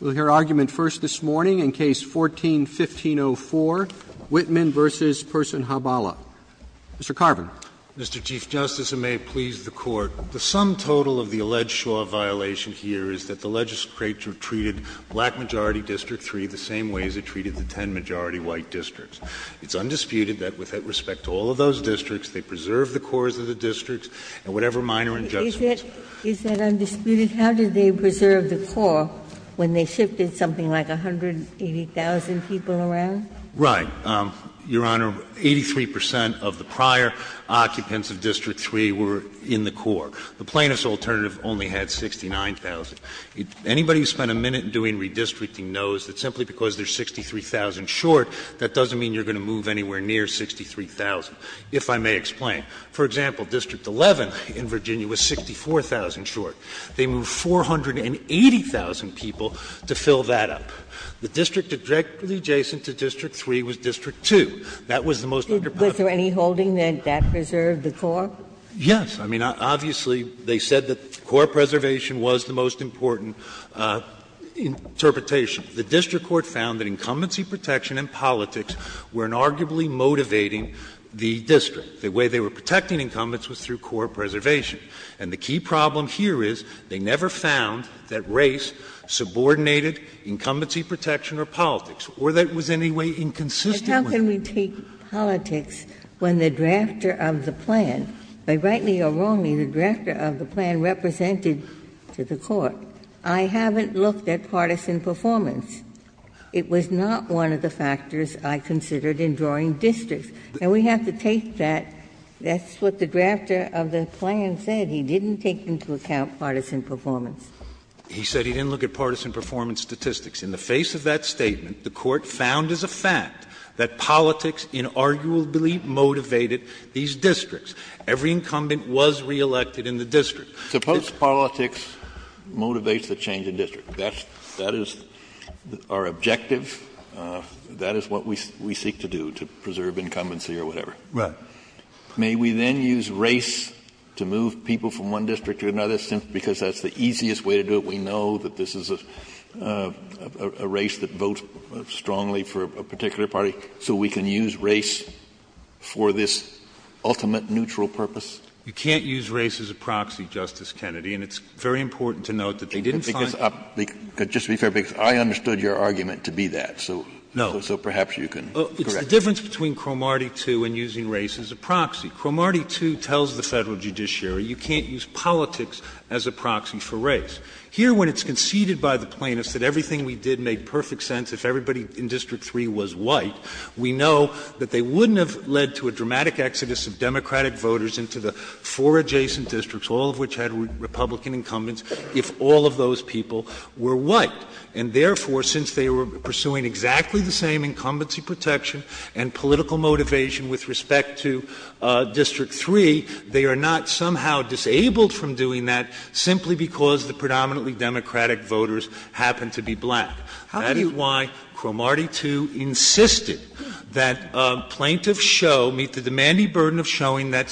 We'll hear argument first this morning in Case 14-1504, Wittman v. Personhuballah. Mr. Carver. Mr. Chief Justice, and may it please the Court, the sum total of the alleged Shaw violation here is that the legislature treated black-majority district three the same way as it treated the ten-majority white districts. It's undisputed that with respect to all of those districts, they preserved the cores of the districts, Is that undisputed? How did they preserve the core when they shifted something like 180,000 people around? Right. Your Honor, 83 percent of the prior occupants of District 3 were in the core. The plaintiff's alternative only had 69,000. Anybody who spent a minute doing redistricting knows that simply because they're 63,000 short, that doesn't mean you're going to move anywhere near 63,000, if I may explain. For example, District 11 in Virginia was 64,000 short. They moved 480,000 people to fill that up. The district directly adjacent to District 3 was District 2. Was there any holding that that preserved the core? Yes. I mean, obviously, they said that core preservation was the most important interpretation. The district court found that incumbency protection and politics were inarguably motivating the district, because the way they were protecting incumbents was through core preservation. And the key problem here is they never found that race subordinated incumbency protection or politics, or that it was in any way inconsistent with that. But how can we take politics when the drafter of the plan, by rightly or wrongly, the drafter of the plan represented to the court. I haven't looked at partisan performance. It was not one of the factors I considered in drawing distance. And we have to take that. That's what the drafter of the plan said. He didn't take into account partisan performance. He said he didn't look at partisan performance statistics. In the face of that statement, the court found as a fact that politics inarguably motivated these districts. Every incumbent was reelected in the district. Suppose politics motivates the change in district. That is our objective. That is what we seek to do, to preserve incumbency or whatever. Right. May we then use race to move people from one district to another, because that's the easiest way to do it. We know that this is a race that votes strongly for a particular party. So we can use race for this ultimate neutral purpose. You can't use race as a proxy, Justice Kennedy. And it's very important to note that they didn't find — Just to be clear, because I understood your argument to be that. No. So perhaps you can correct me. It's the difference between Cromartie 2 and using race as a proxy. Cromartie 2 tells the Federal Judiciary you can't use politics as a proxy for race. Here, when it's conceded by the plaintiffs that everything we did made perfect sense, if everybody in District 3 was white, we know that they wouldn't have led to a dramatic exodus of Democratic voters into the four adjacent districts, all of which had Republican incumbents, if all of those people were white. And therefore, since they were pursuing exactly the same incumbency protection and political motivation with respect to District 3, they are not somehow disabled from doing that, simply because the predominantly Democratic voters happen to be black. That is why Cromartie 2 insisted that plaintiffs show, that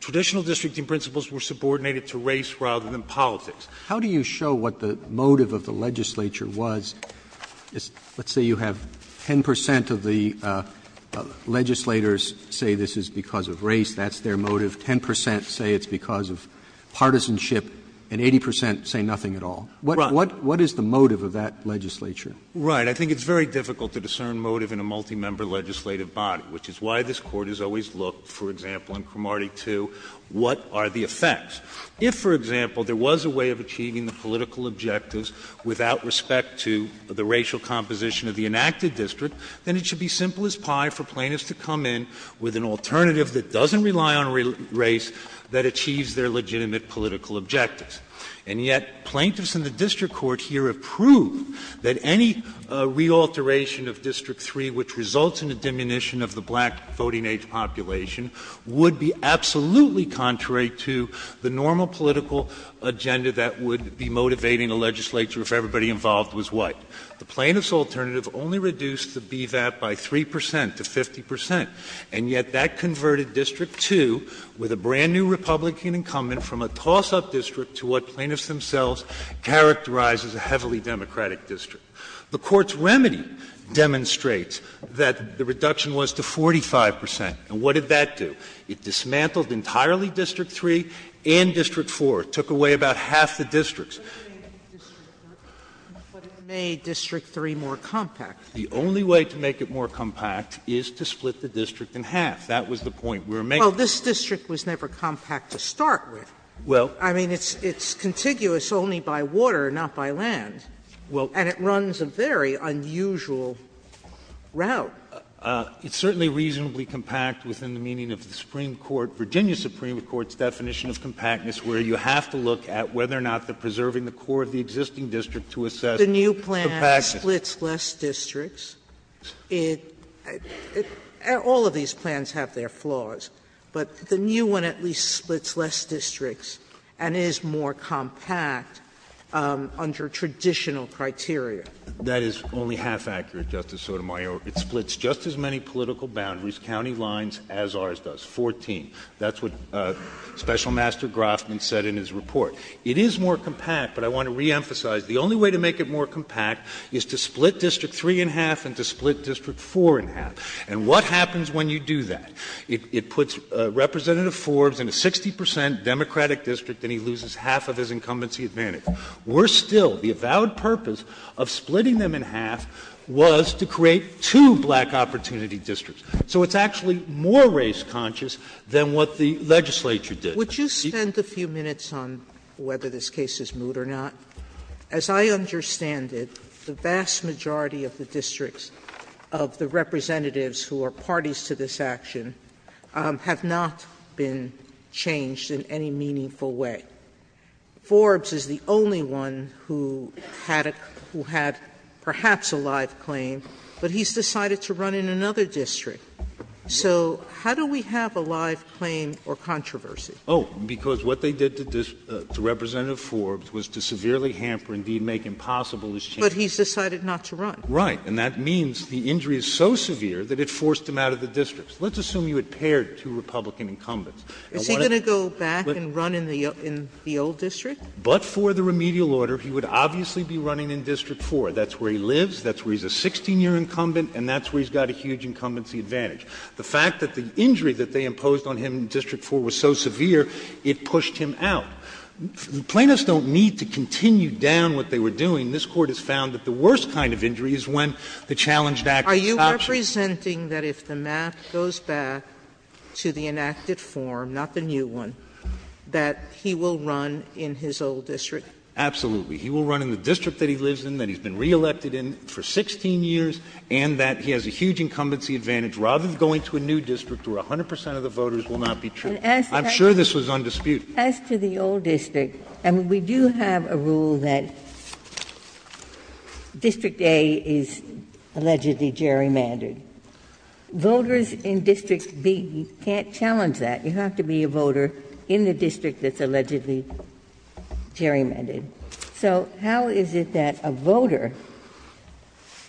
traditional districting principles were subordinated to race rather than politics. How do you show what the motive of the legislature was? Let's say you have 10 percent of the legislators say this is because of race. That's their motive. Ten percent say it's because of partisanship. And 80 percent say nothing at all. What is the motive of that legislature? Right. I think it's very difficult to discern motive in a multi-member legislative body, which is why this Court has always looked, for example, in Cromartie 2, what are the effects. If, for example, there was a way of achieving the political objectives without respect to the racial composition of the enacted district, then it should be simple as pie for plaintiffs to come in with an alternative that doesn't rely on race, that achieves their legitimate political objectives. And yet plaintiffs in the district court here approve that any re-alteration of District 3, which results in the diminution of the black voting age population, would be absolutely contrary to the normal political agenda that would be motivating a legislature if everybody involved was white. The plaintiff's alternative only reduced the BVAP by 3 percent to 50 percent. And yet that converted District 2 with a brand-new Republican incumbent from a toss-up district to what plaintiffs themselves characterize as a heavily Democratic district. The Court's remedy demonstrates that the reduction was to 45 percent. And what did that do? It dismantled entirely District 3 and District 4. It took away about half the districts. But it made District 3 more compact. The only way to make it more compact is to split the district in half. That was the point we were making. Well, this district was never compact to start with. Well. I mean, it's contiguous only by water, not by land. Well. And it runs a very unusual route. It's certainly reasonably compact within the meaning of the Supreme Court, Virginia Supreme Court's definition of compactness, where you have to look at whether or not they're preserving the core of the existing district to assess compactness. The new plan splits less districts. All of these plans have their flaws. But the new one at least splits less districts and is more compact under traditional criteria. That is only half accurate, Justice Sotomayor. It splits just as many political boundaries, county lines, as ours does, 14. That's what Special Master Grofman said in his report. It is more compact, but I want to reemphasize, the only way to make it more compact is to split District 3 in half and to split District 4 in half. And what happens when you do that? It puts Representative Forbes in a 60 percent Democratic district, and he loses half of his incumbency advantage. Worse still, the avowed purpose of splitting them in half was to create two black opportunity districts. So it's actually more race conscious than what the legislature did. Would you spend a few minutes on whether this case is moot or not? As I understand it, the vast majority of the districts of the representatives who are parties to this action have not been changed in any meaningful way. Forbes is the only one who had perhaps a live claim, but he's decided to run in another district. So how do we have a live claim or controversy? Oh, because what they did to Representative Forbes was to severely hamper and indeed make impossible his change. But he's decided not to run. Right. And that means the injury is so severe that it forced him out of the district. Let's assume you had paired two Republican incumbents. Is he going to go back and run in the old district? But for the remedial order, he would obviously be running in District 4. That's where he lives. That's where he's a 16-year incumbent, and that's where he's got a huge incumbency advantage. The fact that the injury that they imposed on him in District 4 was so severe, it pushed him out. Plaintiffs don't need to continue down what they were doing. This Court has found that the worst kind of injury is when the challenged act is toxic. Are you representing that if the math goes back to the enacted form, not the new one, that he will run in his old district? Absolutely. He will run in the district that he lives in, that he's been re-elected in for 16 years, and that he has a huge incumbency advantage. Rather than going to a new district where 100 percent of the voters will not be true. I'm sure this was undisputed. As to the old district, we do have a rule that District A is allegedly gerrymandered. Voters in District B can't challenge that. You have to be a voter in the district that's allegedly gerrymandered. So how is it that a voter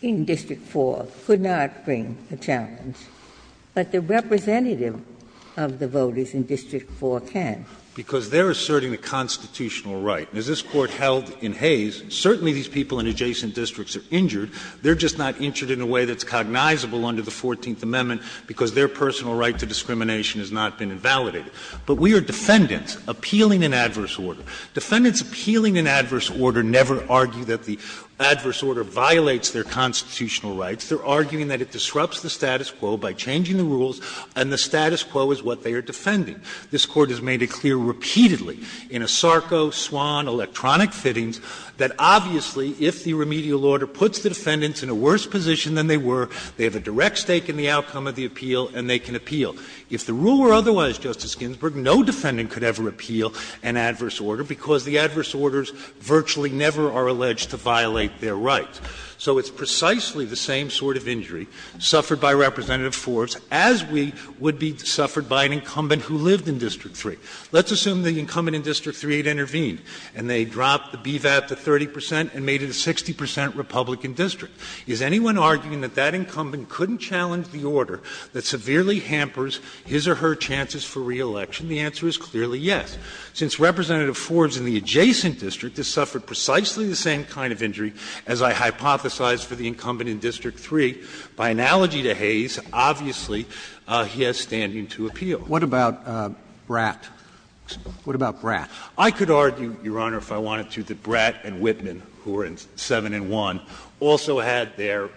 in District 4 could not bring a challenge, but the representative of the voters in District 4 can? Because they're asserting a constitutional right. As this Court held in Hays, certainly these people in adjacent districts are injured. They're just not injured in a way that's cognizable under the 14th Amendment because their personal right to discrimination has not been invalidated. But we are defendants appealing an adverse order. Defendants appealing an adverse order never argue that the adverse order violates their constitutional rights. They're arguing that it disrupts the status quo by changing the rules, and the status quo is what they are defending. This Court has made it clear repeatedly in a SARCO, SWAN, electronic fittings, that obviously if the remedial order puts the defendants in a worse position than they were, they have a direct stake in the outcome of the appeal, and they can appeal. If the rule were otherwise, Justice Ginsburg, no defendant could ever appeal an adverse order because the adverse orders virtually never are alleged to violate their rights. So it's precisely the same sort of injury suffered by Representative Forbes as we would be suffered by an incumbent who lived in District 3. Let's assume the incumbent in District 3 had intervened, and they dropped the BVAP to 30% and made it a 60% Republican district. Is anyone arguing that that incumbent couldn't challenge the order that severely hampers his or her chances for re-election? The answer is clearly yes. Since Representative Forbes in the adjacent district has suffered precisely the same kind of injury as I hypothesized for the incumbent in District 3, by analogy to Hayes, obviously he has standing to appeal. What about Bratt? What about Bratt? I could argue, Your Honor, if I wanted to, that Bratt and Whitman, who were in 7 and 1, also had their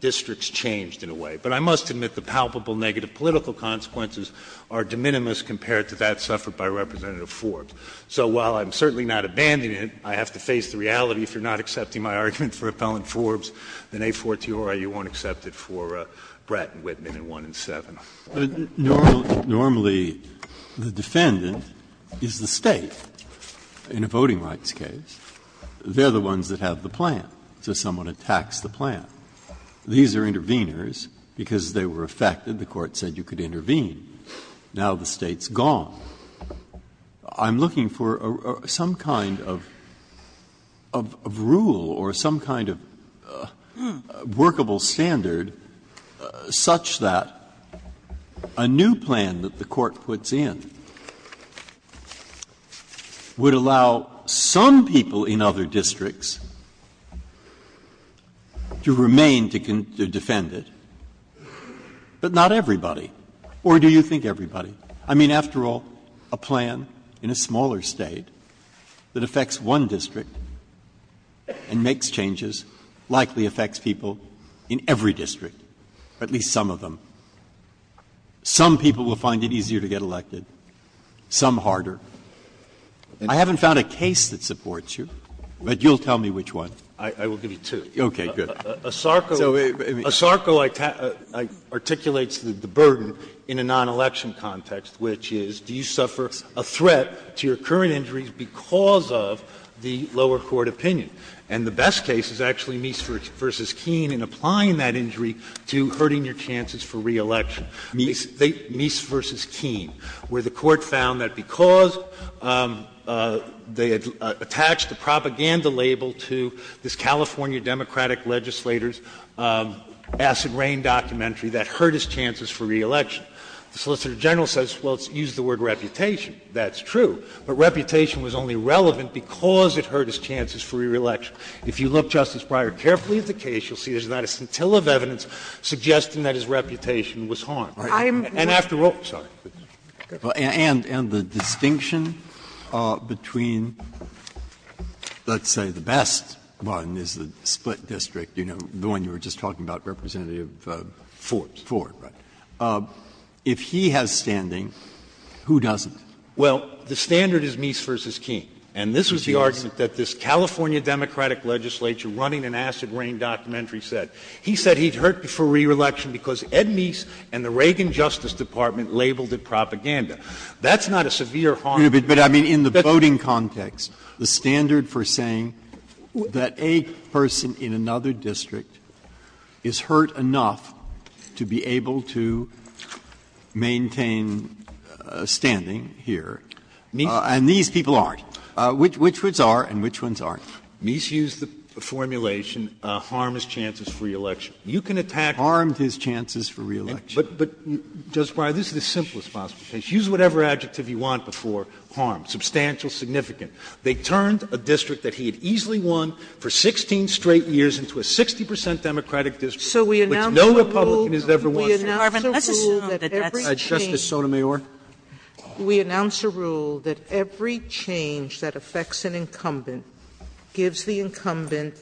districts changed in a way. But I must admit the palpable negative political consequences are de minimis compared to that suffered by Representative Forbes. So while I'm certainly not abandoning it, I have to face the reality, if you're not accepting my argument for Appellant Forbes, then 842, Your Honor, you won't accept it for Bratt and Whitman in 1 and 7. Normally, the defendant is the state in a voting rights case. They're the ones that have the plan. So someone attacks the plan. These are interveners because they were affected. The court said you could intervene. Now the state's gone. I'm looking for some kind of rule or some kind of workable standard such that a new plan that the court puts in would allow some people in other districts to remain to defend it, but not everybody. Or do you think everybody? I mean, after all, a plan in a smaller state that affects one district and makes changes likely affects people in every district, at least some of them. Some people will find it easier to get elected. Some harder. I haven't found a case that supports you, but you'll tell me which one. I will give you two. Okay, good. A SARCO articulates the burden in a non-election context, which is do you suffer a threat to your current injury because of the lower court opinion? And the best case is actually Meester v. Keene in applying that injury to hurting your chances for re-election, Meester v. Keene, where the court found that because they had attached the propaganda label to this California Democratic legislator's acid rain documentary that hurt his chances for re-election. The Solicitor General says, well, it's used the word reputation. That's true. If you look, Justice Breyer, carefully at the case, you'll see there's not a scintilla of evidence suggesting that his reputation was harmed. And after all – sorry. And the distinction between, let's say, the best one is the split district, the one you were just talking about, Representative Ford. If he has standing, who doesn't? Well, the standard is Meester v. Keene. And this was the argument that this California Democratic legislator running an acid rain documentary said. He said he's hurt for re-election because Ed Meese and the Reagan Justice Department labeled it propaganda. That's not a severe harm. But, I mean, in the voting context, the standard for saying that a person in another district is hurt enough to be able to maintain standing here, and these people aren't. Which ones are and which ones aren't? Meese used the formulation harm his chances for re-election. You can attack harm his chances for re-election. But, Justice Breyer, this is the simplest possible case. Use whatever adjective you want before harm. Substantial, significant. They turned a district that he had easily won for 16 straight years into a 60 percent Democratic district, which no Republican has ever won. Justice Sotomayor? We announce a rule that every change that affects an incumbent gives the incumbent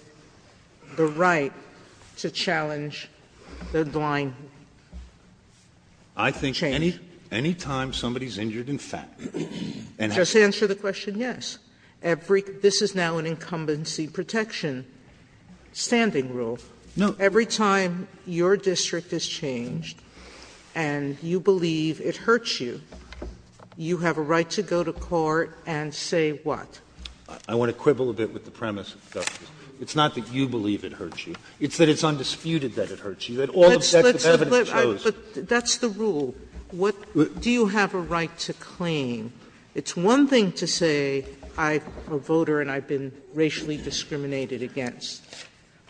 the right to challenge their blind. I think any time somebody's injured in fact. Just answer the question, yes. This is now an incumbency protection standing rule. Every time your district is changed and you believe it hurts you, you have a right to go to court and say what? I want to quibble a bit with the premise, Justice. It's not that you believe it hurts you. It's that it's undisputed that it hurts you. It all of a sudden shows. That's the rule. Do you have a right to claim? It's one thing to say I'm a voter and I've been racially discriminated against.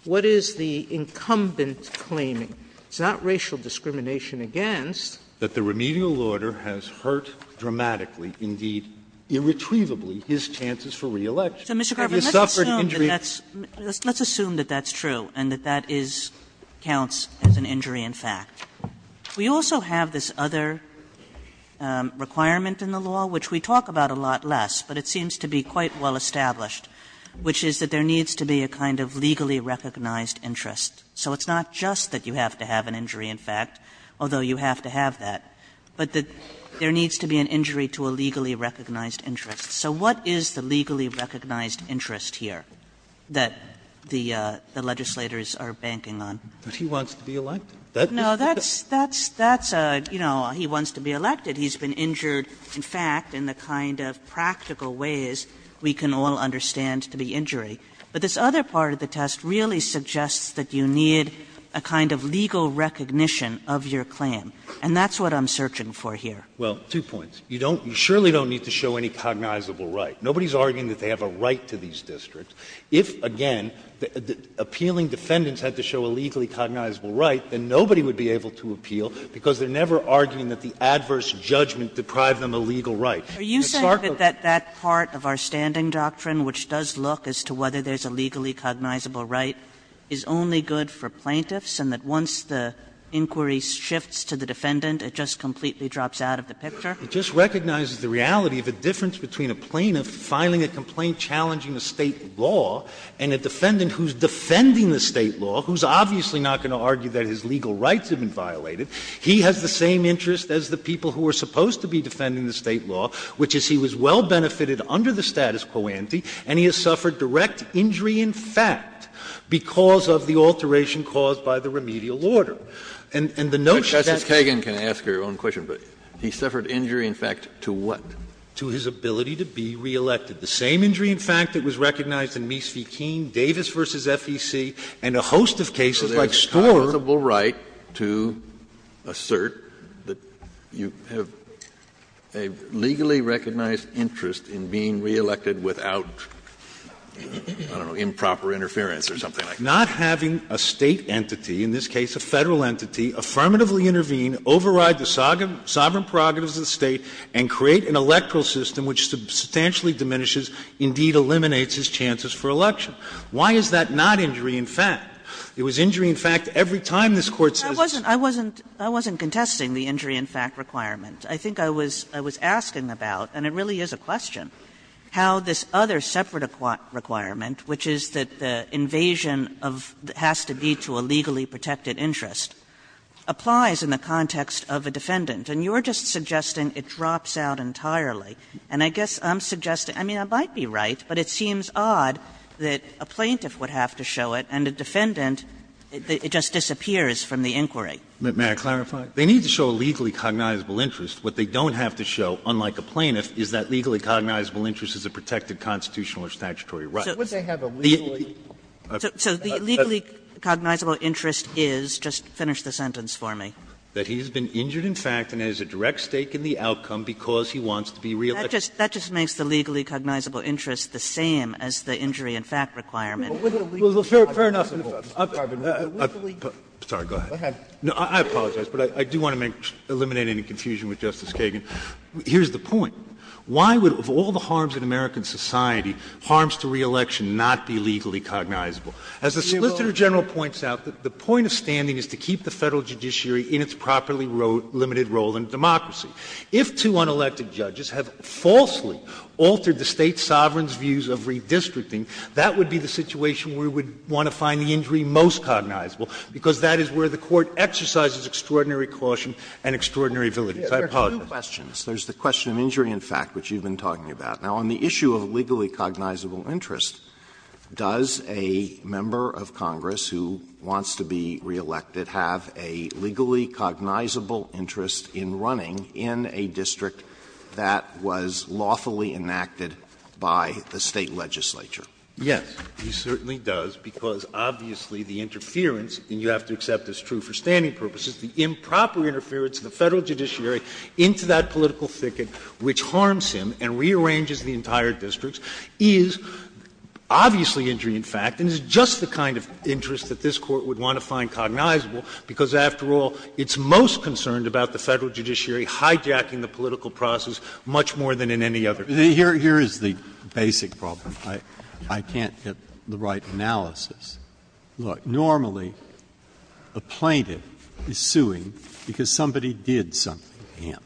What is the incumbent claiming? It's not racial discrimination against. That the remedial order has hurt dramatically, indeed irretrievably, his chances for re-election. So, Mr. Garber, let's assume that that's true and that that counts as an injury in fact. We also have this other requirement in the law, which we talk about a lot less, but it seems to be quite well established, which is that there needs to be a kind of legally recognized interest. So it's not just that you have to have an injury in fact, although you have to have that, but that there needs to be an injury to a legally recognized interest. So what is the legally recognized interest here that the legislators are banking on? He wants to be elected. No, that's a, you know, he wants to be elected. He's been injured in fact in the kind of practical ways we can all understand the injury. But this other part of the test really suggests that you need a kind of legal recognition of your claim. And that's what I'm searching for here. Well, two points. You don't, you surely don't need to show any cognizable right. Nobody's arguing that they have a right to these districts. If, again, appealing defendants had to show a legally cognizable right, then nobody would be able to appeal because they're never arguing that the adverse judgment deprived them a legal right. Are you saying that that part of our standing doctrine, which does look as to whether there's a legally cognizable right, is only good for plaintiffs, and that once the inquiry shifts to the defendant, it just completely drops out of the picture? It just recognizes the reality of the difference between a plaintiff filing a complaint challenging the state law and a defendant who's defending the state law, who's obviously not going to argue that his legal rights have been violated. He has the same interest as the people who are supposed to be defending the state law, which is he was well-benefited under the status quo ante, and he has suffered direct injury in fact because of the alteration caused by the remedial order. And the notion that... Justice Kagan can ask her own question, but he suffered injury in fact to what? To his ability to be re-elected. The same injury in fact that was recognized in Meese v. Keene, Davis v. FEC, and a host of cases like Storer... A legally recognized interest in being re-elected without improper interference or something like that. Not having a state entity, in this case a federal entity, affirmatively intervene, override the sovereign prerogatives of the state, and create an electoral system which substantially diminishes, indeed eliminates, his chances for election. Why is that not injury in fact? It was injury in fact every time this Court says... I wasn't contesting the injury in fact requirements. I think I was asking about, and it really is a question, how this other separate requirement, which is that the invasion has to be to a legally protected interest, applies in the context of a defendant. And you're just suggesting it drops out entirely. And I guess I'm suggesting, I mean I might be right, but it seems odd that a plaintiff would have to show it and a defendant, it just disappears from the inquiry. May I clarify? They need to show a legally cognizable interest. What they don't have to show, unlike a plaintiff, is that legally cognizable interest is a protected constitutional or statutory right. Would they have a legally... So the legally cognizable interest is, just finish the sentence for me. That he has been injured in fact and has a direct stake in the outcome because he wants to be re-elected. That just makes the legally cognizable interest the same as the injury in fact requirement. Fair enough. Sorry, go ahead. I apologize, but I do want to eliminate any confusion with Justice Kagan. Here's the point. Why would, of all the harms in American society, harms to re-election not be legally cognizable? As the Solicitor General points out, the point of standing is to keep the Federal judiciary in its properly limited role in democracy. If two unelected judges have falsely altered the State sovereign's views of redistricting, that would be the situation where we would want to find the injury most cognizable because that is where the Court exercises extraordinary caution and extraordinary ability. I apologize. There's two questions. There's the question of injury in fact, which you've been talking about. Now on the issue of legally cognizable interest, does a member of Congress who wants to be re-elected have a legally cognizable interest in running in a district that was lawfully enacted by the State legislature? Yes, he certainly does because obviously the interference, and you have to accept this true for standing purposes, the improper interference of the Federal judiciary into that political thicket which harms him and rearranges the entire district is obviously injury in fact and is just the kind of interest that this Court would want to find cognizable because after all, it's most concerned about the Federal judiciary hijacking the political process much more than in any other case. Here is the basic problem. I can't get the right analysis. Look, normally a plaintiff is suing because somebody did something to him.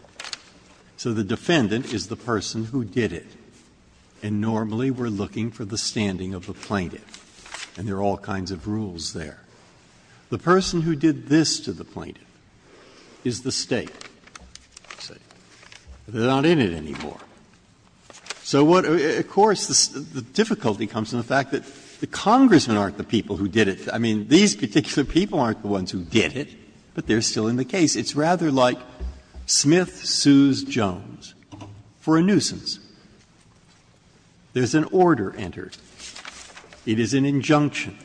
So the defendant is the person who did it and normally we're looking for the standing of the plaintiff and there are all kinds of rules there. The person who did this to the plaintiff is the State. They're not in it anymore. So of course the difficulty comes from the fact that the congressmen aren't the people who did it. I mean, these particular people aren't the ones who did it, but they're still in the case. It's rather like Smith sues Jones for a nuisance. There's an order entered. It is an injunction.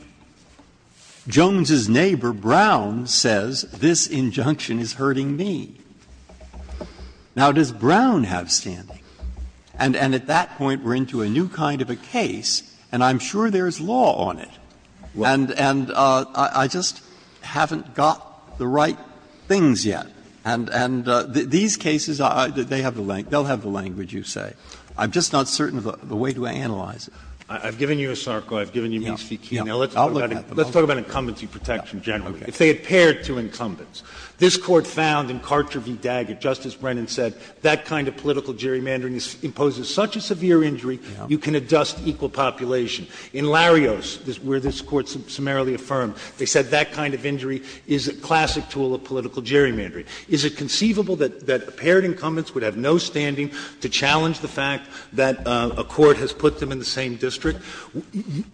Jones's neighbor, Brown, says this injunction is hurting me. Now does Brown have standing? And at that point we're into a new kind of a case and I'm sure there's law on it. And I just haven't got the right things yet. And these cases, they'll have the language, you say. I'm just not certain of the way to analyze it. I've given you a circle. I've given you means. Let's talk about incumbency protection generally. If they had paired two incumbents. This Court found in Carcher v. Daggett, Justice Brennan said, that kind of political gerrymandering imposes such a severe injury, you can adjust equal population. In Larios, where this Court summarily affirmed, they said that kind of injury is a classic tool of political gerrymandering. Is it conceivable that paired incumbents would have no standing to challenge the fact that a court has put them in the same district?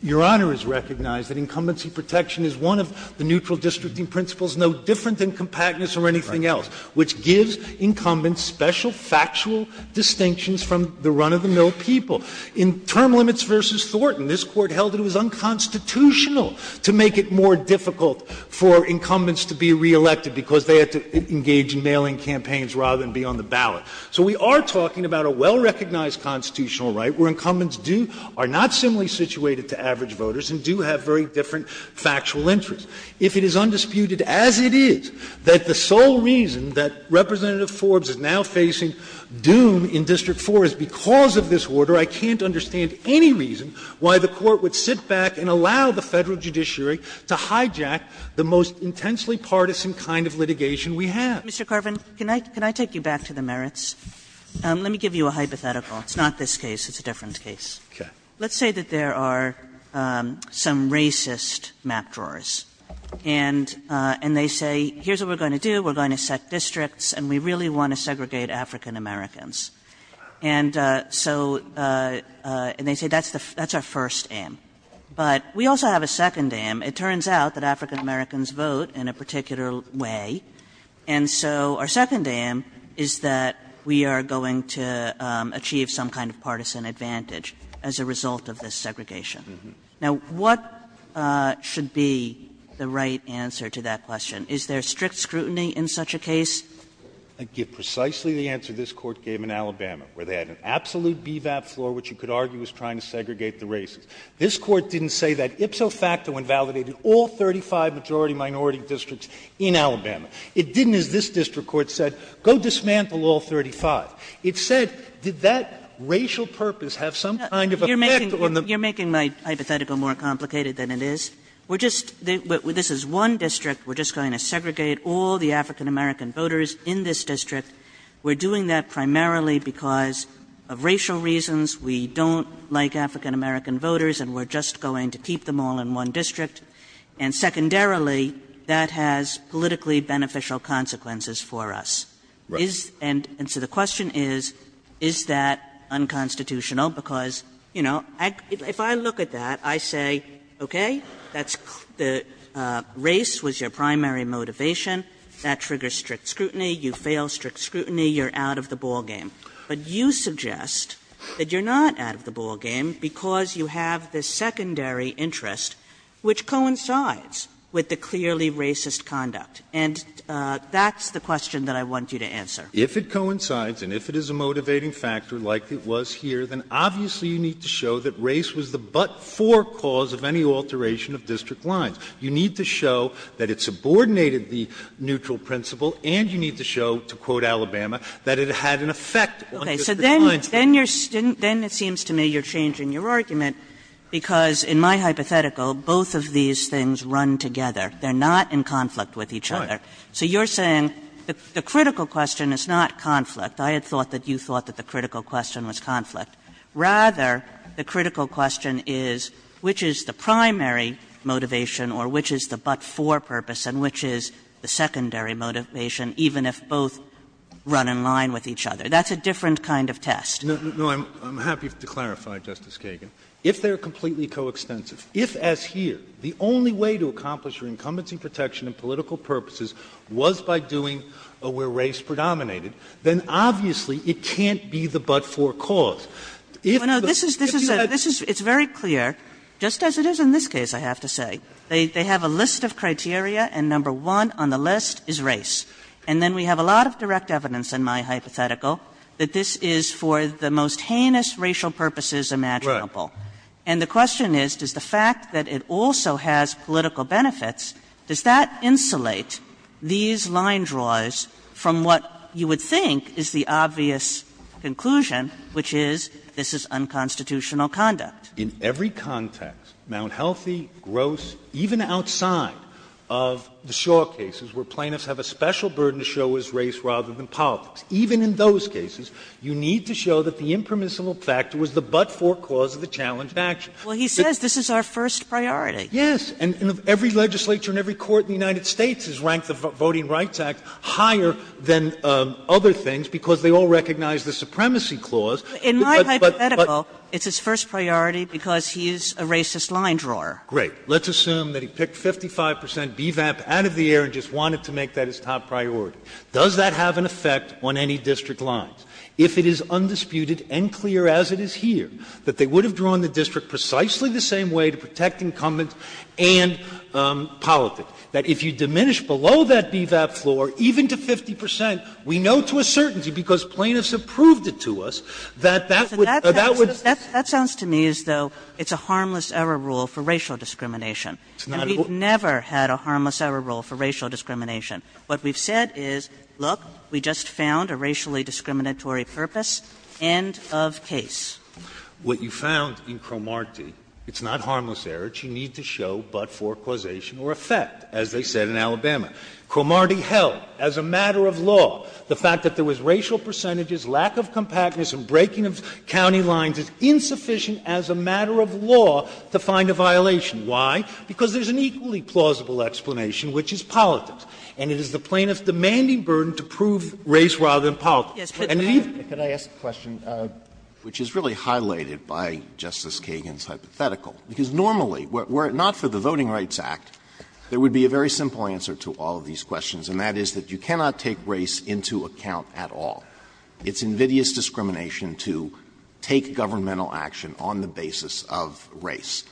Your Honor has recognized that incumbency protection is one of the neutral districting principles, no different than compactness or anything else, which gives incumbents special factual distinctions from the run-of-the-mill people. In Term Limits v. Thornton, this Court held that it was unconstitutional to make it more difficult for incumbents to be re-elected because they had to engage in mailing campaigns rather than be on the ballot. So we are talking about a well-recognized constitutional right where incumbents are not similarly situated to average voters and do have very different factual interests. If it is undisputed as it is that the sole reason that Representative Forbes is now facing doom in District 4 is because of this order, I can't understand any reason why the Court would sit back and allow the federal judiciary to hijack the most intensely partisan kind of litigation we have. Mr. Carvin, can I take you back to the merits? Let me give you a hypothetical. It's not this case. It's a different case. Okay. Let's say that there are some racist map drawers. And they say, here's what we're going to do. We're going to set districts, and we really want to segregate African-Americans. And so they say that's our first aim. But we also have a second aim. It turns out that African-Americans vote in a particular way, and so our second aim is that we are going to achieve some kind of partisan advantage as a result of this segregation. Now, what should be the right answer to that question? Is there strict scrutiny in such a case? I give precisely the answer this Court gave in Alabama, where they had an absolute BVAP floor, which you could argue was trying to segregate the race. This Court didn't say that ipso facto invalidated all 35 majority-minority districts in Alabama. It didn't, as this District Court said, go dismantle all 35. It said, did that racial purpose have some kind of effect on the... You're making my hypothetical more complicated than it is. We're just... This is one district. We're just going to segregate all the African-American voters in this district. We're doing that primarily because of racial reasons. We don't like African-American voters, and we're just going to keep them all in one district. And secondarily, that has politically beneficial consequences for us. And so the question is, is that unconstitutional? Because, you know, if I look at that, I say, okay, race was your primary motivation. That triggers strict scrutiny. You fail strict scrutiny. You're out of the ballgame. But you suggest that you're not out of the ballgame because you have the secondary interest, which coincides with the clearly racist conduct. And that's the question that I want you to answer. If it coincides and if it is a motivating factor like it was here, then obviously you need to show that race was the but-for cause of any alteration of district lines. You need to show that it subordinated the neutral principle, and you need to show, to quote Alabama, that it had an effect on district lines. Because in my hypothetical, both of these things run together. They're not in conflict with each other. So you're saying the critical question is not conflict. I had thought that you thought that the critical question was conflict. Rather, the critical question is, which is the primary motivation or which is the but-for purpose and which is the secondary motivation, even if both run in line with each other? That's a different kind of test. I'm happy to clarify, Justice Kagan. If they're completely coextensive, if, as here, the only way to accomplish your incumbency protection in political purposes was by doing where race predominated, then obviously it can't be the but-for cause. It's very clear, just as it is in this case, I have to say. They have a list of criteria, and number one on the list is race. And then we have a lot of direct evidence in my hypothetical that this is for the most heinous racial purposes imaginable. And the question is, does the fact that it also has political benefits, does that insulate these line draws from what you would think is the obvious conclusion, which is this is unconstitutional conduct. In every context, Mount Healthy, Gross, even outside of the Shaw cases, where plaintiffs have a special burden to show as race rather than politics, even in those cases, you need to show that the impermissible factor was the but-for cause of the challenge action. Well, he says this is our first priority. Yes, and every legislature and every court in the United States has ranked the Voting Rights Act higher than other things because they all recognize the supremacy clause. In my hypothetical, it's his first priority because he's a racist line drawer. Great. Let's assume that he picked 55 percent BVAP out of the air and just wanted to make that his top priority. Does that have an effect on any district line? If it is undisputed and clear as it is here that they would have drawn the district precisely the same way to protect incumbents and politics, that if you diminish below that BVAP floor even to 50 percent, we know for a certainty because plaintiffs have proved it to us that that would... That sounds to me as though it's a harmless error rule for racial discrimination. We've never had a harmless error rule for racial discrimination. What we've said is, look, we just found a racially discriminatory purpose. End of case. What you found in Cromartie, it's not harmless error. It's you need to show but-for causation or effect, as they said in Alabama. Cromartie held as a matter of law the fact that there was racial percentages, lack of compactness, and breaking of county lines is insufficient as a matter of law to find a violation. Why? Because there's an equally plausible explanation, which is politics. And it is the plaintiff's demanding burden to prove race rather than politics. Could I ask a question, which is really highlighted by Justice Kagan's hypothetical? Because normally were it not for the Voting Rights Act, there would be a very simple answer to all of these questions, and that is that you cannot take race into account at all. It's invidious discrimination to take governmental action on the basis of race.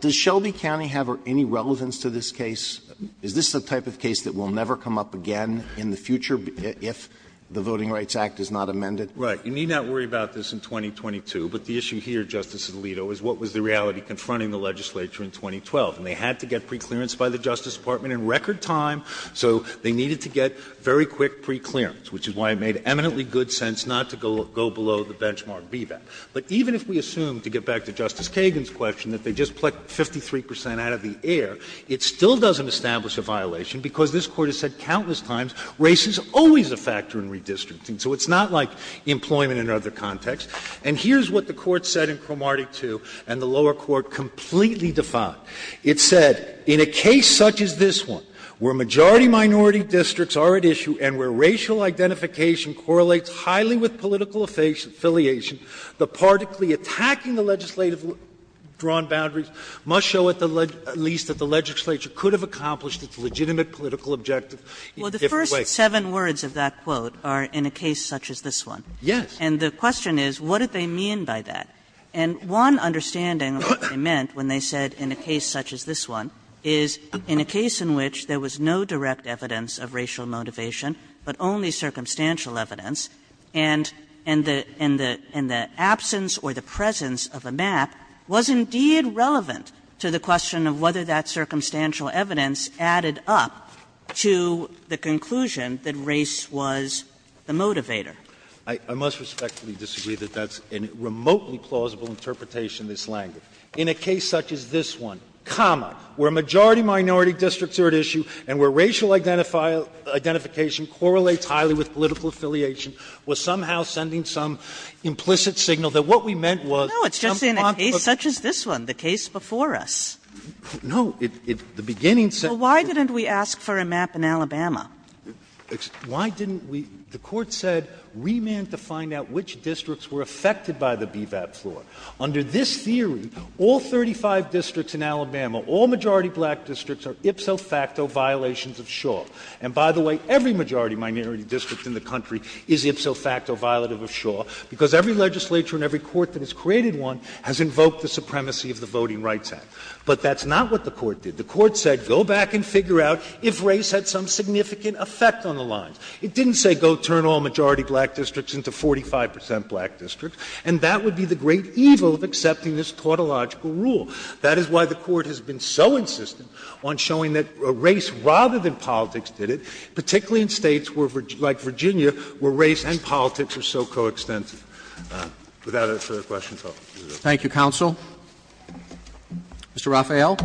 Does Shelby County have any relevance to this case? Is this the type of case that will never come up again in the future if the Voting Rights Act is not amended? Right. You need not worry about this in 2022, but the issue here, Justice Alito, is what was the reality confronting the legislature in 2012. And they had to get preclearance by the Justice Department in record time, so they needed to get very quick preclearance, which is why it made eminently good sense not to go below the benchmark VDAP. But even if we assume, to get back to Justice Kagan's question, that they just plucked 53 percent out of the air, it still doesn't establish a violation because this Court has said countless times race is always a factor in redistricting. So it's not like employment in another context. And here's what the Court said in Cromartie 2, and the lower court completely defied. It said, in a case such as this one, where majority-minority districts are at issue and where racial identification correlates highly with political affiliation, the party attacking the legislative drawn boundaries must show at least that the legislature could have accomplished its legitimate political objective in a different way. The first seven words of that quote are, in a case such as this one. And the question is, what did they mean by that? And one understanding of what they meant when they said, in a case such as this one, is in a case in which there was no direct evidence of racial motivation but only circumstantial evidence, and the absence or the presence of a map was indeed relevant to the question of whether that circumstantial evidence added up to the conclusion that race was the motivator. I must respectfully disagree that that's a remotely plausible interpretation of this language. In a case such as this one, comma, where majority-minority districts are at issue and where racial identification correlates highly with political affiliation, was somehow sending some implicit signal that what we meant was — No, it's just in a case such as this one, the case before us. No, it's the beginning — Well, why didn't we ask for a map in Alabama? Why didn't we — the court said, remand to find out which districts were affected by the BVAP law. Under this theory, all 35 districts in Alabama, all majority-black districts, are ipso facto violations of Shaw. And by the way, every majority-minority district in the country is ipso facto violative of Shaw because every legislature and every court that has created one has invoked the supremacy of the Voting Rights Act. But that's not what the court did. The court said, go back and figure out if race had some significant effect on the lines. It didn't say, go turn all majority-black districts into 45 percent black districts, and that would be the great evil of accepting this tautological rule. That is why the court has been so insistent on showing that race rather than politics did it, particularly in states like Virginia, where race and politics are so coextensive. Without further questions, I'll conclude. Thank you, Counsel. Mr. Raphael.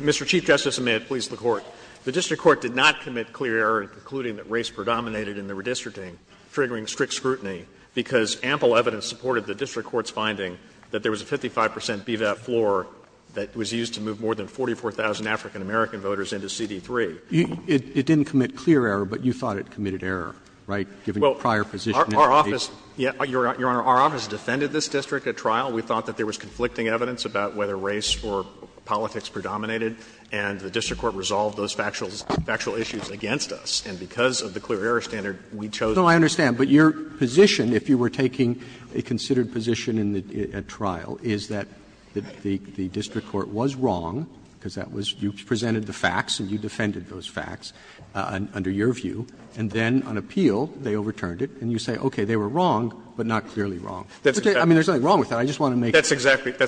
Mr. Chief Justice, and may it please the Court, the district court did not commit clear error in concluding that race predominated in the redistricting, triggering strict scrutiny because ample evidence supported the district court's finding that there was a 55 percent BVAP floor that was used to move more than 44,000 African-American voters into CD3. It didn't commit clear error, but you thought it committed error, right, given the prior position? Our office, Your Honor, our office defended this district at trial. We thought that there was conflicting evidence about whether race or politics predominated, and the district court resolved those factual issues against us. And because of the clear error standard, we chose not to. No, I understand. But your position, if you were taking a considered position at trial, is that the district court was wrong because that was you presented the facts and you defended those facts under your view, and then on appeal, they overturned it, and you say, okay, they were wrong, but not clearly wrong. I mean, there's nothing wrong with that. I just want to make sure. That's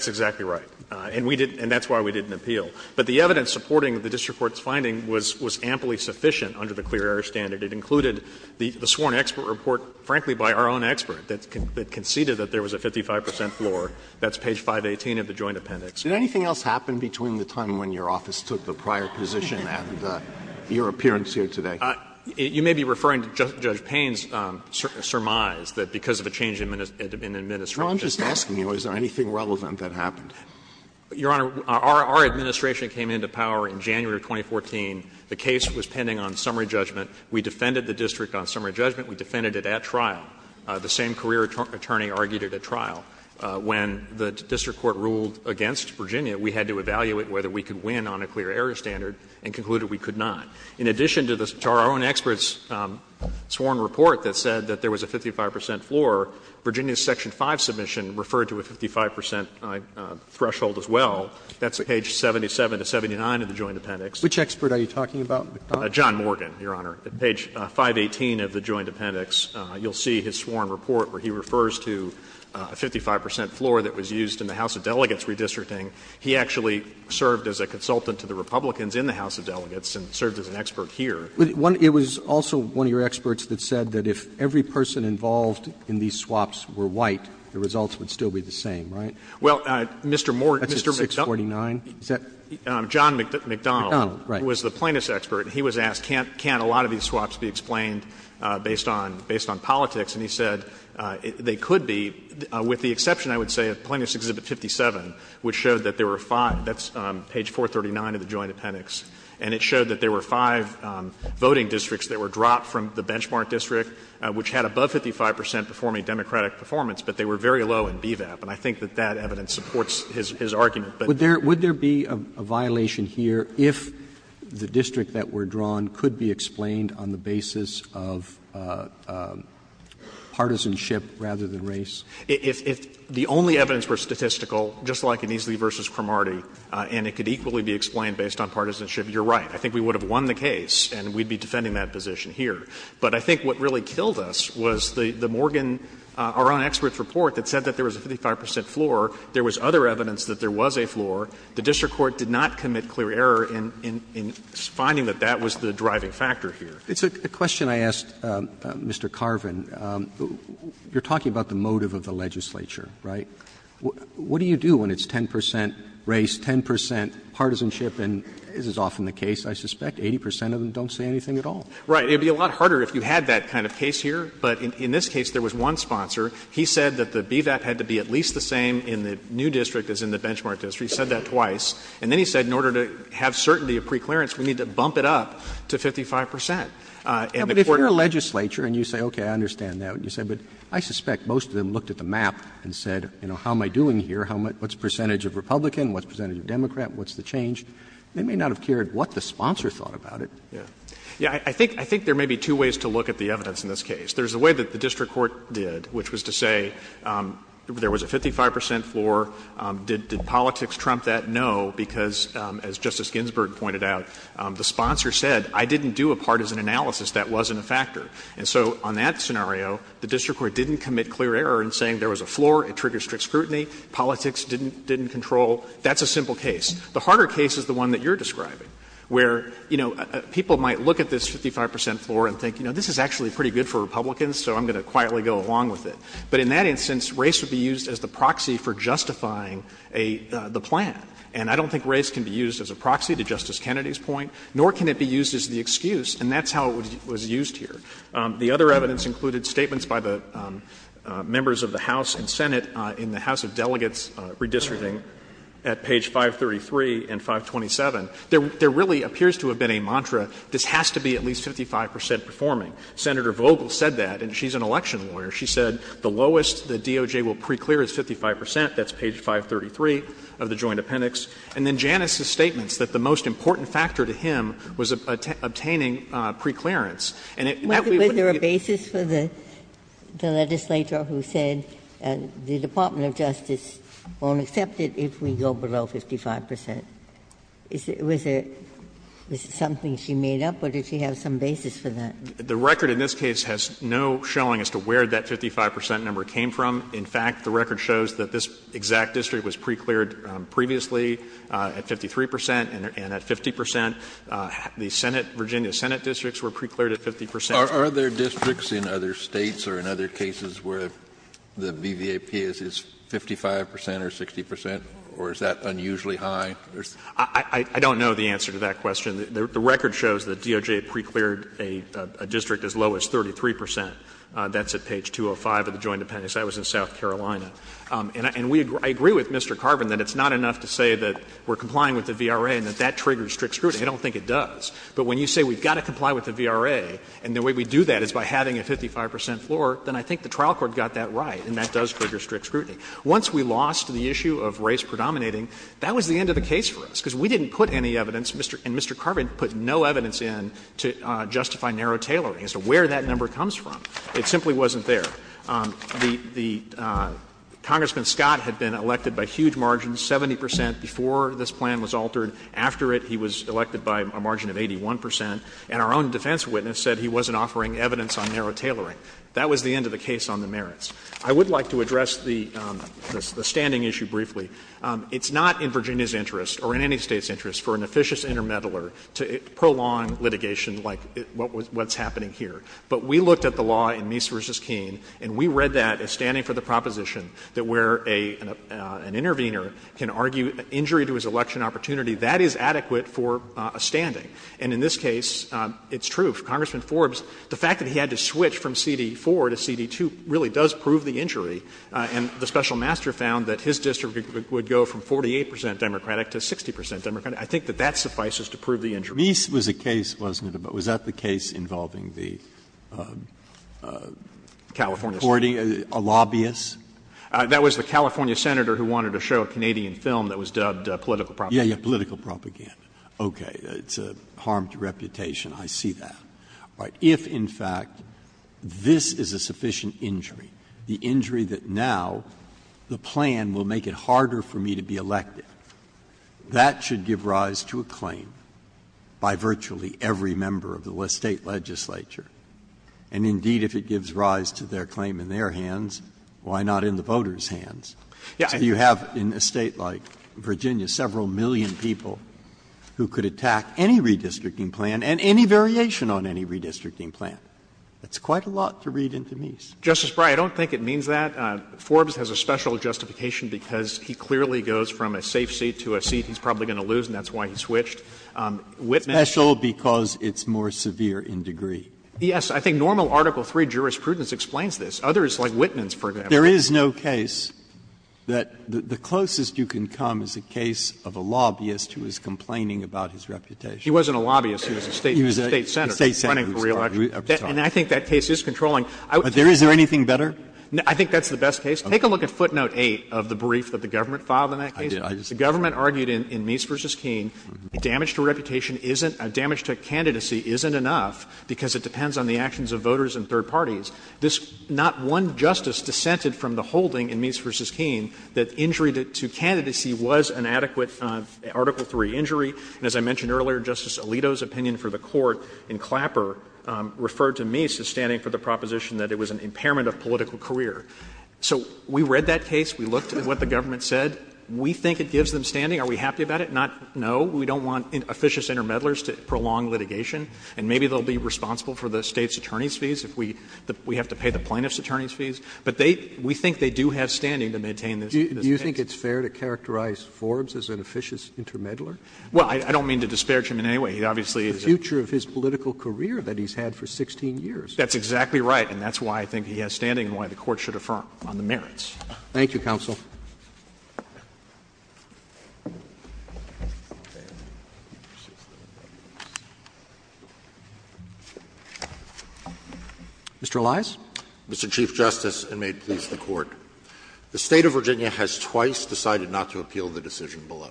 exactly right. And that's why we didn't appeal. But the evidence supporting the district court's finding was amply sufficient under the clear error standard. It included the sworn expert report, frankly, by our own expert that conceded that there was a 55 percent floor. That's page 518 of the Joint Appendix. Did anything else happen between the time when your office took the prior position and your appearance here today? You may be referring to Judge Payne's surmise that because of a change in administration Well, I'm just asking you, is there anything relevant that happened? Your Honor, our administration came into power in January of 2014. The case was pending on summary judgment. We defended it at trial. The same career attorney argued it at trial. When the district court ruled against Virginia, we had to evaluate whether we could win on a clear error standard and concluded we could not. In addition to our own expert's sworn report that said that there was a 55 percent floor, Virginia's Section 5 submission referred to a 55 percent threshold as well. That's page 77 to 79 of the Joint Appendix. Which expert are you talking about? John Morgan, Your Honor, page 518 of the Joint Appendix. You'll see his sworn report where he refers to a 55 percent floor that was used in the House of Delegates redistricting. He actually served as a consultant to the Republicans in the House of Delegates and served as an expert here. It was also one of your experts that said that if every person involved in these swaps were white, the results would still be the same, right? Well, Mr. Morgan, Mr. McDonnell, John McDonnell was the plaintiff's expert. He was asked, can't a lot of these swaps be explained based on politics? And he said they could be, with the exception, I would say, of Plaintiff's Exhibit 57, which showed that there were five. That's page 439 of the Joint Appendix. And it showed that there were five voting districts that were dropped from the benchmark district, which had above 55 percent performing democratic performance, but they were very low in DVAP. And I think that that evidence supports his argument. Would there be a violation here if the district that were drawn could be explained on the basis of partisanship rather than race? If the only evidence were statistical, just like an Easley versus Cromartie, and it could equally be explained based on partisanship, you're right. I think we would have won the case and we'd be defending that position here. But I think what really killed us was the Morgan, our own expert's report that said that there was a 55 percent floor. There was other evidence that there was a floor. The district court did not commit clear error in finding that that was the driving factor here. It's a question I asked Mr. Carvin. You're talking about the motive of the legislature, right? What do you do when it's 10 percent race, 10 percent partisanship? And it is often the case, I suspect, 80 percent of them don't say anything at all. Right. It would be a lot harder if you had that kind of case here. But in this case, there was one sponsor. He said that the BVAP had to be at least the same in the new district as in the benchmark district. He said that twice. And then he said in order to have certainty of preclearance, we need to bump it up to 55 percent. But if you're a legislature and you say, okay, I understand that. You say, but I suspect most of them looked at the map and said, you know, how am I doing here? What's the percentage of Republican? What's the percentage of Democrat? What's the change? They may not have cared what the sponsor thought about it. Yeah. I think there may be two ways to look at the evidence in this case. There's a way that the district court did, which was to say there was a 55 percent floor. Did politics trump that? No, because as Justice Ginsburg pointed out, the sponsor said, I didn't do a partisan analysis. That wasn't a factor. And so on that scenario, the district court didn't commit clear error in saying there was a floor. It triggered strict scrutiny. Politics didn't control. That's a simple case. The harder case is the one that you're describing, where, you know, people might look at this and say, well, I'm not going to be a Republican, so I'm going to quietly go along with it. But in that instance, race would be used as the proxy for justifying the plan. And I don't think race can be used as a proxy, to Justice Kennedy's point, nor can it be used as the excuse. And that's how it was used here. The other evidence included statements by the members of the House and Senate in the House of Delegates redistricting at page 533 and 527. There really appears to have been a mantra, this has to be at least 55 percent performing. Senator Vogel said that, and she's an election lawyer. She said the lowest the DOJ will preclear is 55 percent. That's page 533 of the Joint Appendix. And then Janice's statement that the most important factor to him was obtaining preclearance. And it actually would be ---- Was there a basis for the legislator who said the Department of Justice won't accept it if we go below 55 percent? Was it something she made up? Or did she have some basis for that? The record in this case has no showing as to where that 55 percent number came from. In fact, the record shows that this exact district was precleared previously at 53 percent and at 50 percent. The Senate, Virginia Senate districts were precleared at 50 percent. Are there districts in other states or in other cases where the VVAP is 55 percent or 60 percent? Or is that unusually high? I don't know the answer to that question. The record shows that DOJ precleared a district as low as 33 percent. That's at page 205 of the Joint Appendix. That was in South Carolina. And I agree with Mr. Carbon that it's not enough to say that we're complying with the VRA and that that triggers strict scrutiny. I don't think it does. But when you say we've got to comply with the VRA and the way we do that is by having a 55 percent floor, then I think the trial court got that right and that does trigger strict scrutiny. Once we lost the issue of race predominating, that was the end of the case for us because we didn't put any evidence, and Mr. Carbon put no evidence in to justify narrow tailoring as to where that number comes from. It simply wasn't there. The Congressman Scott had been elected by huge margins, 70 percent before this plan was altered. After it, he was elected by a margin of 81 percent. And our own defense witness said he wasn't offering evidence on narrow tailoring. That was the end of the case on the merits. I would like to address the standing issue briefly. It's not in Virginia's interest or in any State's interest for an officious intermeddler to prolong litigation like what's happening here. But we looked at the law in Meese v. Keene, and we read that as standing for the proposition that where an intervener can argue an injury to his election opportunity, that is adequate for a standing. And in this case, it's true. Congressman Forbes, the fact that he had to switch from CD4 to CD2 really does prove the injury. And the special master found that his district would go from 48 percent Democratic to 60 percent Democratic. I think that that suffices to prove the injury. Meese was the case, wasn't it? Was that the case involving the California Senator? A lobbyist? That was the California Senator who wanted to show a Canadian film that was dubbed political propaganda. Yeah, yeah, political propaganda. Okay. It's a harmed reputation. I see that. If, in fact, this is a sufficient injury, the injury that now the plan will make it harder for me to be elected, that should give rise to a claim by virtually every member of the state legislature. And indeed, if it gives rise to their claim in their hands, why not in the voters' hands? You have in a state like Virginia several million people who could attack any redistricting plan and any variation on any redistricting plan. That's quite a lot to read into Meese. Justice Frey, I don't think it means that. Forbes has a special justification because he clearly goes from a safe seat to a seat he's probably going to lose, and that's why he switched. Special because it's more severe in degree. Yes. I think normal Article III jurisprudence explains this. Others, like Wittman's, for example. There is no case that the closest you can come is the case of a lobbyist who is complaining about his reputation. She wasn't a lobbyist. She was a state senator running for reelection. And I think that case is controlling. But is there anything better? I think that's the best case. Take a look at footnote 8 of the brief that the government filed on that case. The government argued in Meese v. Keene, damage to reputation isn't — damage to candidacy isn't enough because it depends on the actions of voters and third parties. This — not one justice dissented from the holding in Meese v. Keene that injury to candidacy was an adequate Article III injury. And as I mentioned earlier, Justice Alito's opinion for the court in Clapper referred to Meese as standing for the proposition that it was an impairment of political career. So we read that case. We looked at what the government said. We think it gives them standing. Are we happy about it? Not — no. We don't want officious intermediaries to prolong litigation. And maybe they'll be responsible for the state's attorney's fees if we have to pay the plaintiff's attorney's fees. But they — we think they do have standing to maintain this. Do you think it's fair to characterize Forbes as an officious intermediary? Well, I don't mean to disparage him in any way. He obviously is — The future of his political career that he's had for 16 years. That's exactly right. And that's why I think he has standing and why the court should affirm on the merits. Thank you, counsel. Mr. Elias? Mr. Chief Justice, and may it please the court, the state of Virginia has twice decided not to appeal the decision below.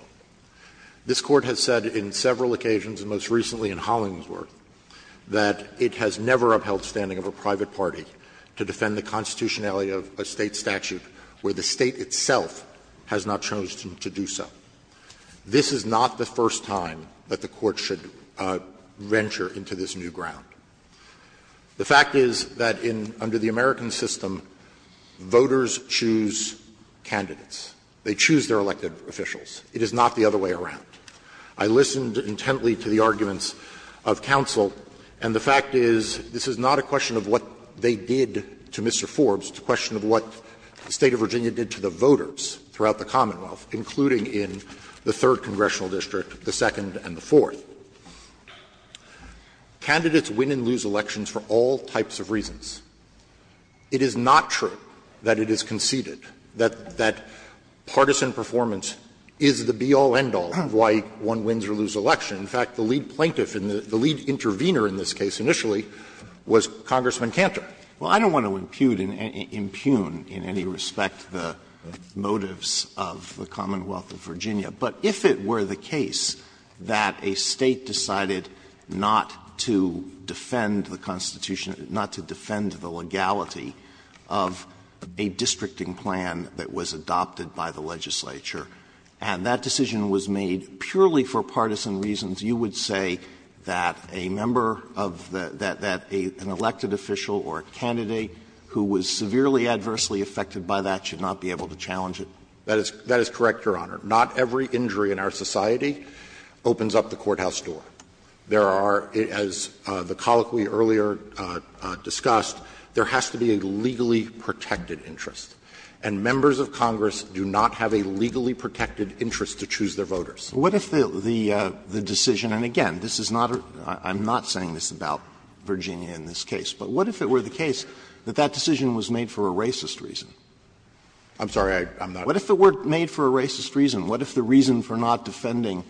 This court has said in several occasions, and most recently in Hollingsworth, that it has never upheld standing of a private party to defend the constitutionality of a state statute where the state itself has not chosen to do so. This is not the first time that the court should venture into this new ground. The fact is that in — under the American system, voters choose candidates. They choose their elected officials. It is not the other way around. I listened intently to the arguments of counsel, and the fact is, this is not a question of what they did to Mr. Forbes. It's a question of what the state of Virginia did to the voters throughout the Commonwealth, including in the 3rd Congressional District, the 2nd, and the 4th. Candidates win and lose elections for all types of reasons. It is not true that it is conceded, that partisan performance is the be-all, end-all of why one wins or loses an election. In fact, the lead plaintiff and the lead intervener in this case initially was Congressman Cantor. Well, I don't want to impugn in any respect the motives of the Commonwealth of Virginia, but if it were the case that a state decided not to defend the Constitution, not to defend the legality of a districting plan that was adopted by the legislature, and that decision was made purely for partisan reasons, you would say that a member of the — that an elected official or a candidate who was severely, adversely affected by that should not be able to challenge it? That is correct, Your Honor. Not every injury in our society opens up the courthouse door. There are — as the colloquy earlier discussed, there has to be a legally protected interest. And members of Congress do not have a legally protected interest to choose their voters. What if the decision — and again, this is not — I'm not saying this about Virginia in this case, but what if it were the case that that decision was made for a racist reason? I'm sorry, I'm not — What if it were made for a racist reason? What if the reason for not defending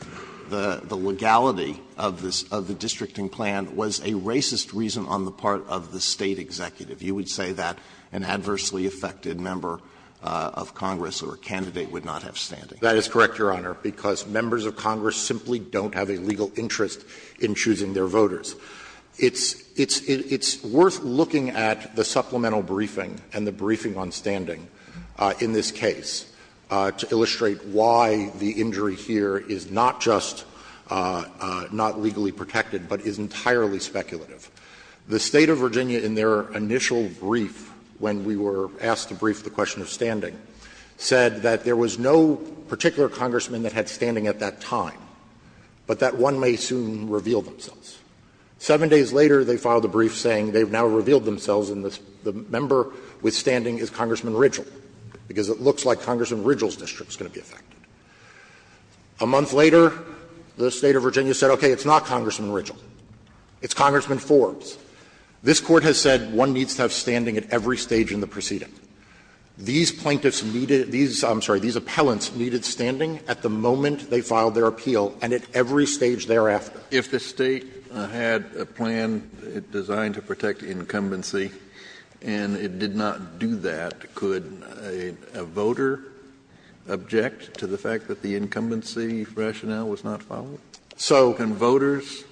the legality of the districting plan was a racist reason on the part of the state executive? You would say that an adversely affected member of Congress or a candidate would not have standing. That is correct, Your Honor, because members of Congress simply don't have a legal interest in choosing their voters. It's worth looking at the supplemental briefing and the briefing on standing in this case to illustrate why the injury here is not just not legally protected, but is entirely speculative. The state of Virginia in their initial brief when we were asked to brief the question of standing said that there was no particular congressman that had standing at that time, but that one may soon reveal themselves. Seven days later, they filed a brief saying they've now revealed themselves and the member with standing is Congressman Ridgell, because it looks like Congressman Ridgell's district is going to be affected. A month later, the state of Virginia said, okay, it's not Congressman Ridgell. It's Congressman Forbes. This court has said one needs to have standing at every stage in the proceeding. These plaintiffs needed — I'm sorry, these appellants needed standing at the moment they filed their appeal and at every stage thereafter. If the state had a plan designed to protect incumbency and it did not do that, could a voter object to the fact that the incumbency rationale was not followed? So — Can voters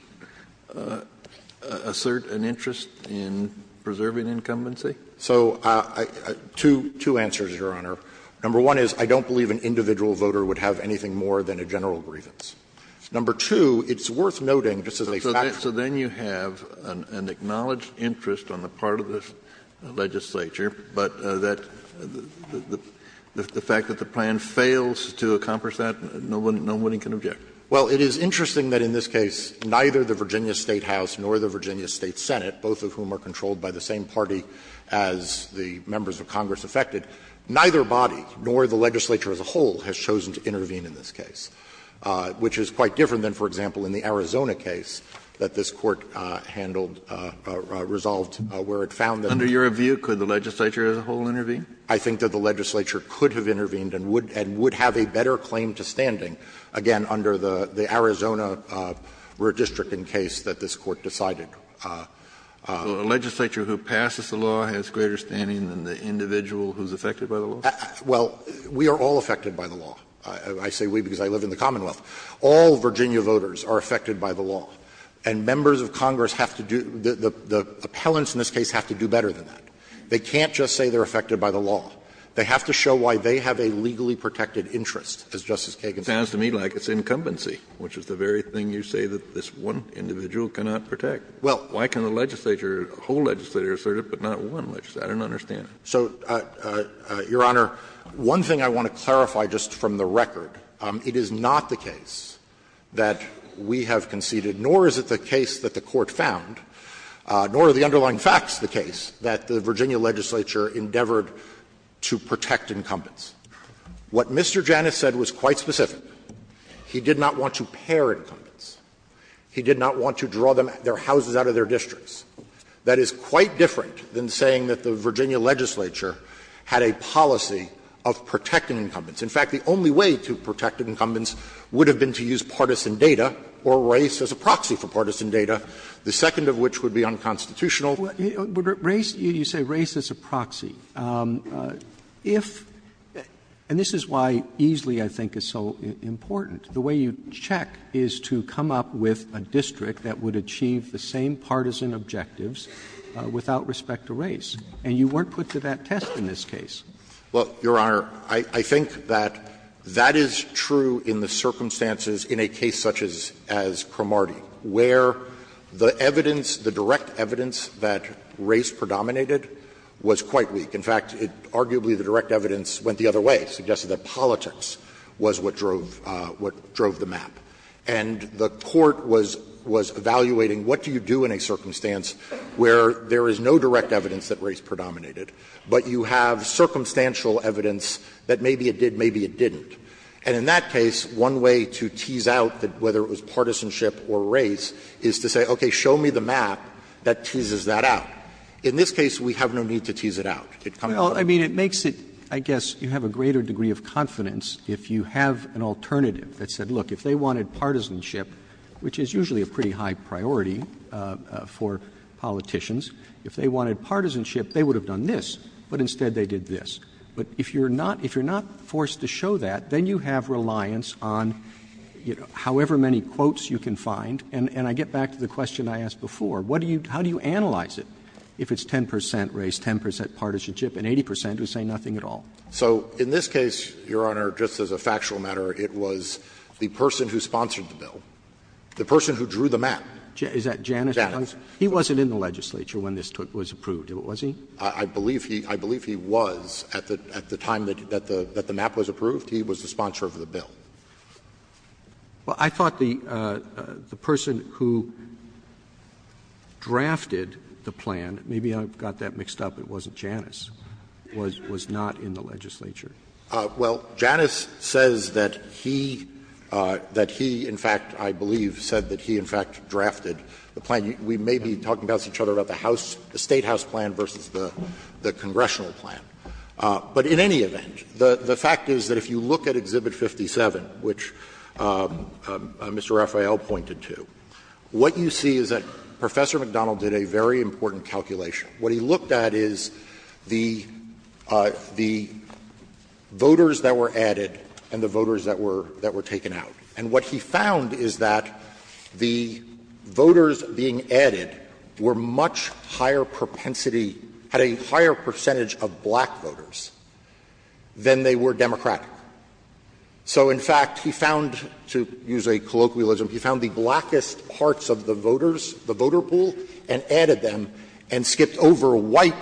assert an interest in preserving incumbency? So two answers, Your Honor. Number one is I don't believe an individual voter would have anything more than a general grievance. Number two, it's worth noting — So then you have an acknowledged interest on the part of the legislature, but the fact that the plan fails to accomplish that, no one can object? Well, it is interesting that in this case, neither the Virginia State House nor the Virginia State Senate, both of whom are controlled by the same party as the members of Congress affected, neither body nor the legislature as a whole has chosen to intervene in this case, which is quite different than, for example, in the Arizona case that this Court handled — resolved where it found that — Under your view, could the legislature as a whole intervene? I think that the legislature could have intervened and would have a better claim to standing, again, under the Arizona redistricting case that this Court decided. The legislature who passes the law has greater standing than the individual who's affected by the law? Well, we are all affected by the law. I say we because I live in the Commonwealth. All Virginia voters are affected by the law. And members of Congress have to do — the appellants in this case have to do better than that. They can't just say they're affected by the law. They have to show why they have a legally protected interest, as Justice Kagan said. It sounds to me like it's incumbency, which is the very thing you say that this one individual cannot protect. Well, why can't a legislature — a whole legislature assert it, but not one? I don't understand. So, Your Honor, one thing I want to clarify just from the record. It is not the case that we have conceded, nor is it the case that the Court found, nor are the underlying facts the case, that the Virginia legislature endeavored to protect incumbents. What Mr. Janis said was quite specific. He did not want to pair incumbents. He did not want to draw their houses out of their districts. That is quite different than saying that the Virginia legislature had a policy of protecting incumbents. In fact, the only way to protect incumbents would have been to use partisan data or race as a proxy for partisan data, the second of which would be unconstitutional. Race — you say race as a proxy. If — and this is why Easley, I think, is so important. The way you check is to come up with a district that would achieve the same partisan objectives without respect to race. And you weren't put to that test in this case. Well, Your Honor, I think that that is true in the circumstances in a case such as Cromartie, where the evidence, the direct evidence that race predominated was quite weak. In fact, arguably the direct evidence went the other way. It suggested that politics was what drove the map. And the court was evaluating what do you do in a circumstance where there is no direct evidence that race predominated, but you have circumstantial evidence that maybe it did, maybe it didn't. And in that case, one way to tease out whether it was partisanship or race is to say, okay, show me the map that teases that out. In this case, we have no need to tease it out. Well, I mean, it makes it, I guess, you have a greater degree of confidence if you have an alternative that said, look, if they wanted partisanship, which is usually a pretty high priority for politicians, if they wanted partisanship, they would have done this, but instead they did this. But if you're not forced to show that, then you have reliance on however many quotes you can find. And I get back to the question I asked before. How do you analyze it if it's 10 percent race, 10 percent partisanship, and 80 percent who say nothing at all? So in this case, Your Honor, just as a factual matter, it was the person who sponsored the bill, the person who drew the map. Is that Janice? Janice. He wasn't in the legislature when this was approved, was he? I believe he was. At the time that the map was approved, he was the sponsor of the bill. Well, I thought the person who drafted the plan, maybe I got that mixed up, it wasn't Janice, was not in the legislature. Well, Janice says that he, in fact, I believe said that he, in fact, drafted the plan. We may be talking about each other about the House, the Statehouse plan versus the congressional plan. But in any event, the fact is that if you look at Exhibit 57, which Mr. Rafael pointed to, what you see is that Professor McDonald did a very important calculation. What he looked at is the voters that were added and the voters that were taken out. And what he found is that the voters being added were much higher propensity, had a higher percentage of black voters than they were Democratic. So, in fact, he found, to use a colloquialism, he found the blackest parts of the voters, the voter pool, and added them and skipped over white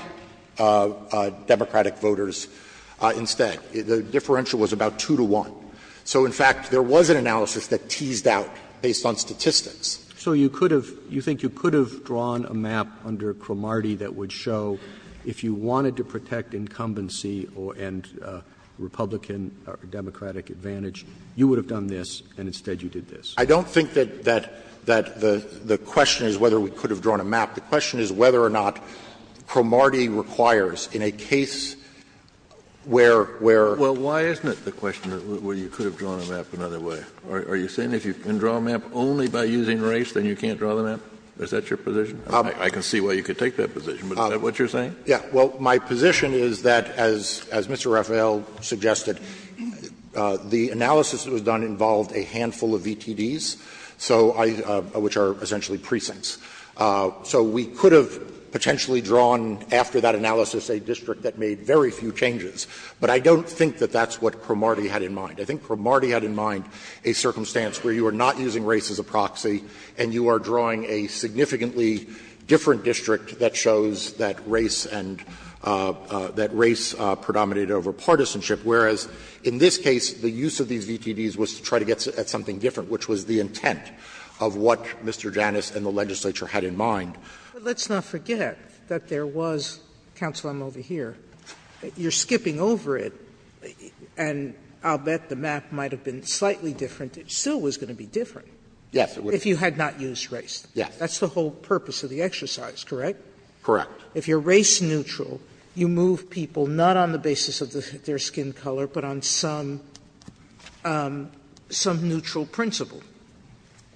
Democratic voters instead. The differential was about two to one. So, in fact, there was an analysis that teased out based on statistics. So you could have, you think you could have drawn a map under Cromartie that would show if you wanted to protect incumbency and Republican or Democratic advantage, you would have done this, and instead you did this. I don't think that the question is whether we could have drawn a map. The question is whether or not Cromartie requires in a case where. Well, why isn't it the question where you could have drawn a map another way? Are you saying if you can draw a map only by using race, then you can't draw the map? Is that your position? I can see why you could take that position, but is that what you're saying? Yeah. Well, my position is that, as Mr. Raphael suggested, the analysis that was done involved a handful of VTDs, which are essentially precincts. So we could have potentially drawn, after that analysis, a district that made very few changes. But I don't think that that's what Cromartie had in mind. I think Cromartie had in mind a circumstance where you were not using race as a proxy and you are drawing a significantly different district that shows that race and that race predominated over partisanship, whereas in this case, the use of these VTDs was to try to get at something different, which was the intent of what Mr. Janus and the legislature had in mind. But let's not forget that there was, Counsel, I'm over here, you're skipping over it, and I'll bet the map might have been slightly different. It still was going to be different if you had not used race. That's the whole purpose of the exercise, correct? Correct. If you're race neutral, you move people not on the basis of their skin color, but on some neutral principle.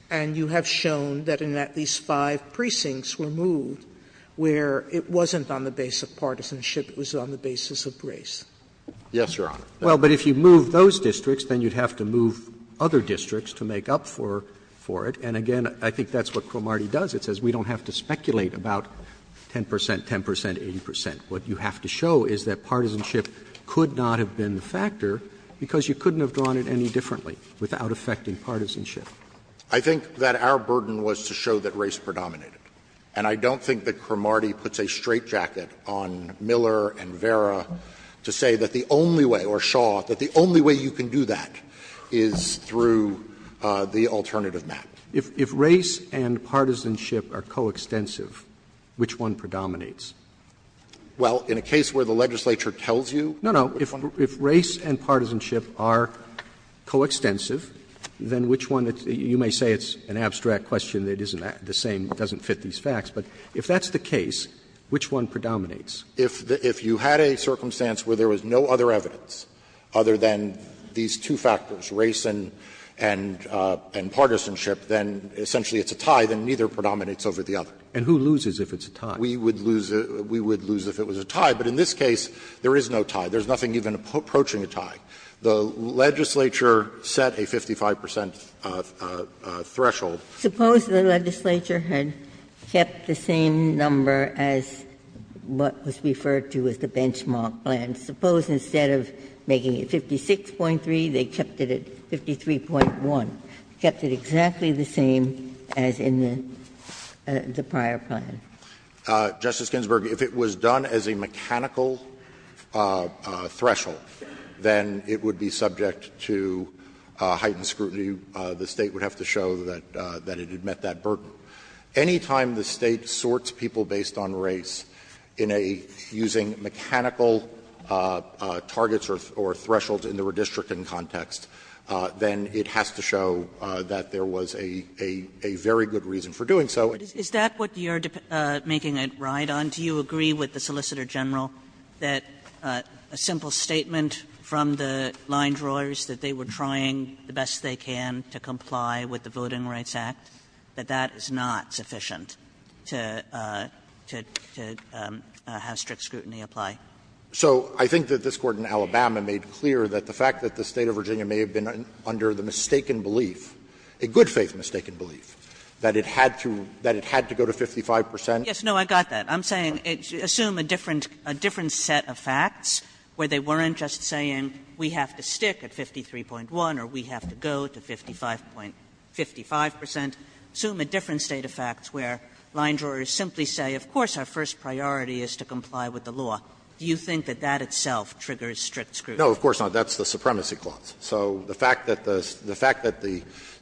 And you have shown that in at least five precincts were moved where it wasn't on the basis of partisanship, it was on the basis of race. Yes, Your Honor. Well, but if you move those districts, then you'd have to move other districts to make up for it. And again, I think that's what Cromartie does. It says we don't have to speculate about 10 percent, 10 percent, 80 percent. What you have to show is that partisanship could not have been the factor because you couldn't have drawn it any differently without affecting partisanship. I think that our burden was to show that race predominated. And I don't think that Cromartie puts a straitjacket on Miller and Vera to say that the only way or Shaw, that the only way you can do that is through the alternative map. If race and partisanship are coextensive, which one predominates? Well, in a case where the legislature tells you. No, no. If race and partisanship are coextensive, then which one, you may say it's an abstract question. It isn't the same. It doesn't fit these facts. But if that's the case, which one predominates? If you had a circumstance where there was no other evidence other than these two factors, race and partisanship, then essentially it's a tie, then neither predominates over the other. And who loses if it's a tie? We would lose if it was a tie. But in this case, there is no tie. There's nothing even approaching a tie. The legislature set a 55 percent threshold. Suppose the legislature had kept the same number as what was referred to as the benchmark plan. Suppose instead of making it 56.3, they kept it at 53.1, kept it exactly the same as in the prior plan. Justice Ginsburg, if it was done as a mechanical threshold, then it would be subject to heightened scrutiny. The State would have to show that it had met that burden. Any time the State sorts people based on race in a using mechanical targets or thresholds in the redistricting context, then it has to show that there was a very good reason for doing so. Is that what you're making a ride on? Do you agree with the Solicitor General that a simple statement from the line drawers that they were trying the best they can to comply with the Voting Rights Act, that that is not sufficient to have strict scrutiny apply? So I think that this Court in Alabama made clear that the fact that the State of Virginia may have been under the mistaken belief, a good faith mistaken belief, that it had to go to 55 percent. Yes, no, I got that. I'm saying assume a different set of facts where they weren't just saying we have to stick at 53.1 or we have to go to 55 percent. Assume a different set of facts where line drawers simply say, of course, our first priority is to comply with the law. Do you think that that itself triggers strict scrutiny? No, of course not. That's the supremacy clause. So the fact that the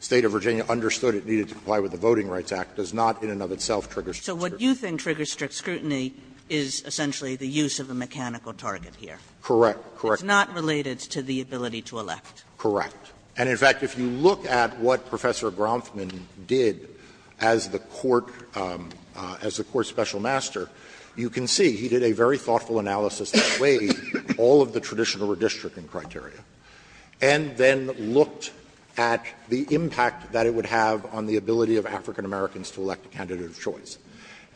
State of Virginia understood it needed to comply with the Voting Rights Act does not in and of itself trigger strict scrutiny. So what you think triggers strict scrutiny is essentially the use of a mechanical target here. Correct. Correct. It's not related to the ability to elect. Correct. And, in fact, if you look at what Professor Bronfman did as the Court special master, you can see he did a very thoughtful analysis that weighed all of the traditional redistricting criteria and then looked at the impact that it would have on the ability of African Americans to elect a candidate of choice.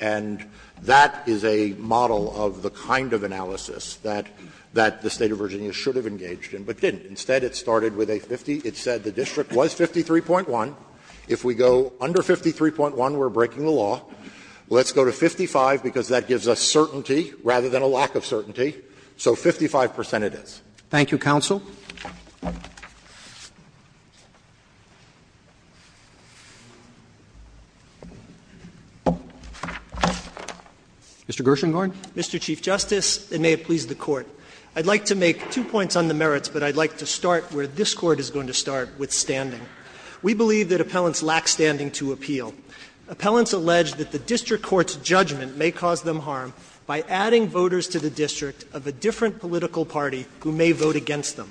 And that is a model of the kind of analysis that the State of Virginia should have engaged in but didn't. Instead, it started with a 50. It said the district was 53.1. If we go under 53.1, we're breaking the law. Let's go to 55 because that gives us certainty rather than a lack of certainty. So 55 percent it is. Thank you, Counsel. Mr. Gershengorn. Mr. Chief Justice, and may it please the Court, I'd like to make two points on the merits, but I'd like to start where this Court is going to start with standing. We believe that appellants lack standing to appeal. Appellants allege that the district court's judgment may cause them harm by adding voters to the district of a different political party who may vote against them.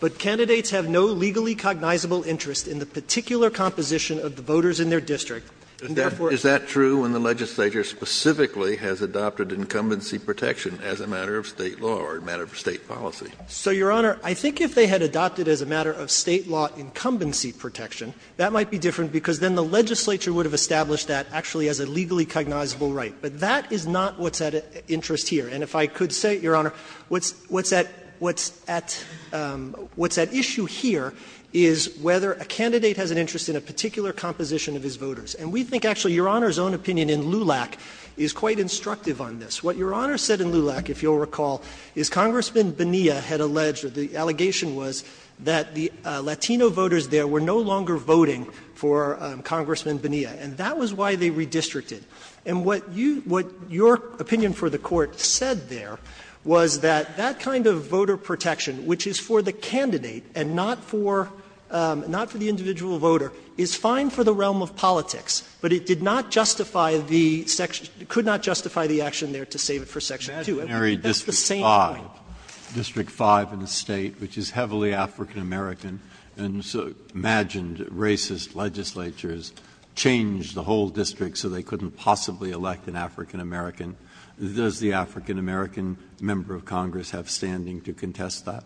But candidates have no legally cognizable interest in the particular composition of the voters in their district. Is that true when the legislature specifically has adopted incumbency protection as a matter of State law or a matter of State policy? So, Your Honor, I think if they had adopted as a matter of State law incumbency protection, that might be different because then the legislature would have established that actually as a legally cognizable right. But that is not what's at interest here. And if I could say, Your Honor, what's at issue here is whether a candidate has an interest in a particular composition of his voters. And we think actually Your Honor's own opinion in LULAC is quite instructive on this. What Your Honor said in LULAC, if you'll recall, is Congressman Bonilla had alleged or the allegation was that the Latino voters there were no longer voting for Congressman Bonilla. And that was why they redistricted. And what you — what your opinion for the Court said there was that that kind of voter protection, which is for the candidate and not for — not for the individual voter, is fine for the realm of politics, but it did not justify the — could not justify the action there to save it for Section 2. District 5 in the state, which is heavily African American. And so imagined racist legislatures changed the whole district so they couldn't possibly elect an African American. Does the African American member of Congress have standing to contest that?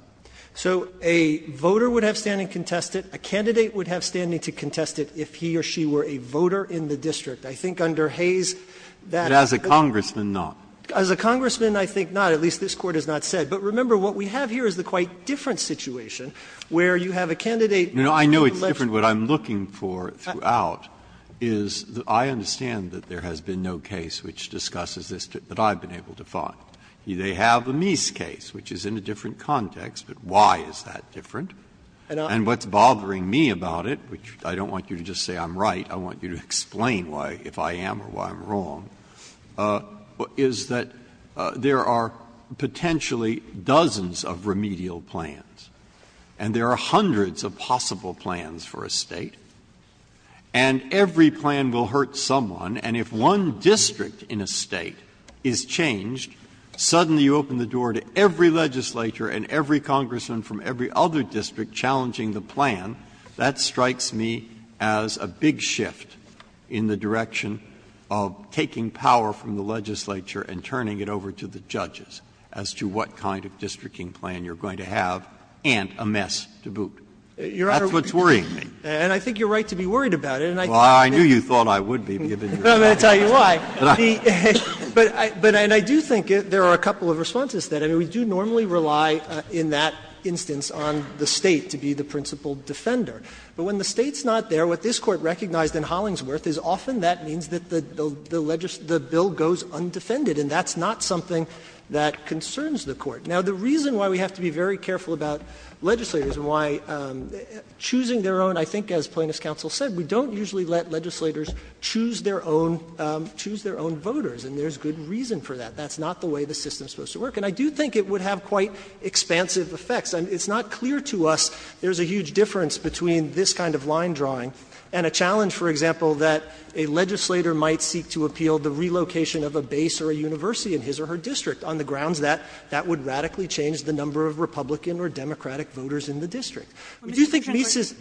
So a voter would have standing to contest it. A candidate would have standing to contest it if he or she were a voter in the district. I think under Hayes — But as a Congressman, not. As a Congressman, I think not. At least this Court has not said. But remember, what we have here is a quite different situation where you have a candidate — No, I know it's different. What I'm looking for throughout is I understand that there has been no case which discusses this that I've been able to fund. They have the Meese case, which is in a different context. But why is that different? And what's bothering me about it, which I don't want you to just say I'm right. I want you to explain why — if I am or why I'm wrong. Is that there are potentially dozens of remedial plans. And there are hundreds of possible plans for a state. And every plan will hurt someone. And if one district in a state is changed, suddenly you open the door to every legislator and every Congressman from every other district challenging the plan. That strikes me as a big shift in the direction of taking power from the legislature and turning it over to the judges as to what kind of districting plan you're going to have and a mess to boot. That's what's worrying me. And I think you're right to be worried about it. Well, I knew you thought I would be. I'm going to tell you why. But I do think there are a couple of responses to that. And we do normally rely in that instance on the State to be the principal defender. But when the State's not there, what this Court recognized in Hollingsworth is often that means that the bill goes undefended. And that's not something that concerns the Court. Now, the reason why we have to be very careful about legislators and why choosing their own, I think as Plaintiff's counsel said, we don't usually let legislators choose their own voters. And there's good reason for that. That's not the way the system's supposed to work. And I do think it would have quite expansive effects. It's not clear to us there's a huge difference between this kind of line drawing and a challenge, for example, that a legislator might seek to appeal the relocation of a base or a university in his or her district on the grounds that that would radically change the number of Republican or Democratic voters in the district. Do you think Meese is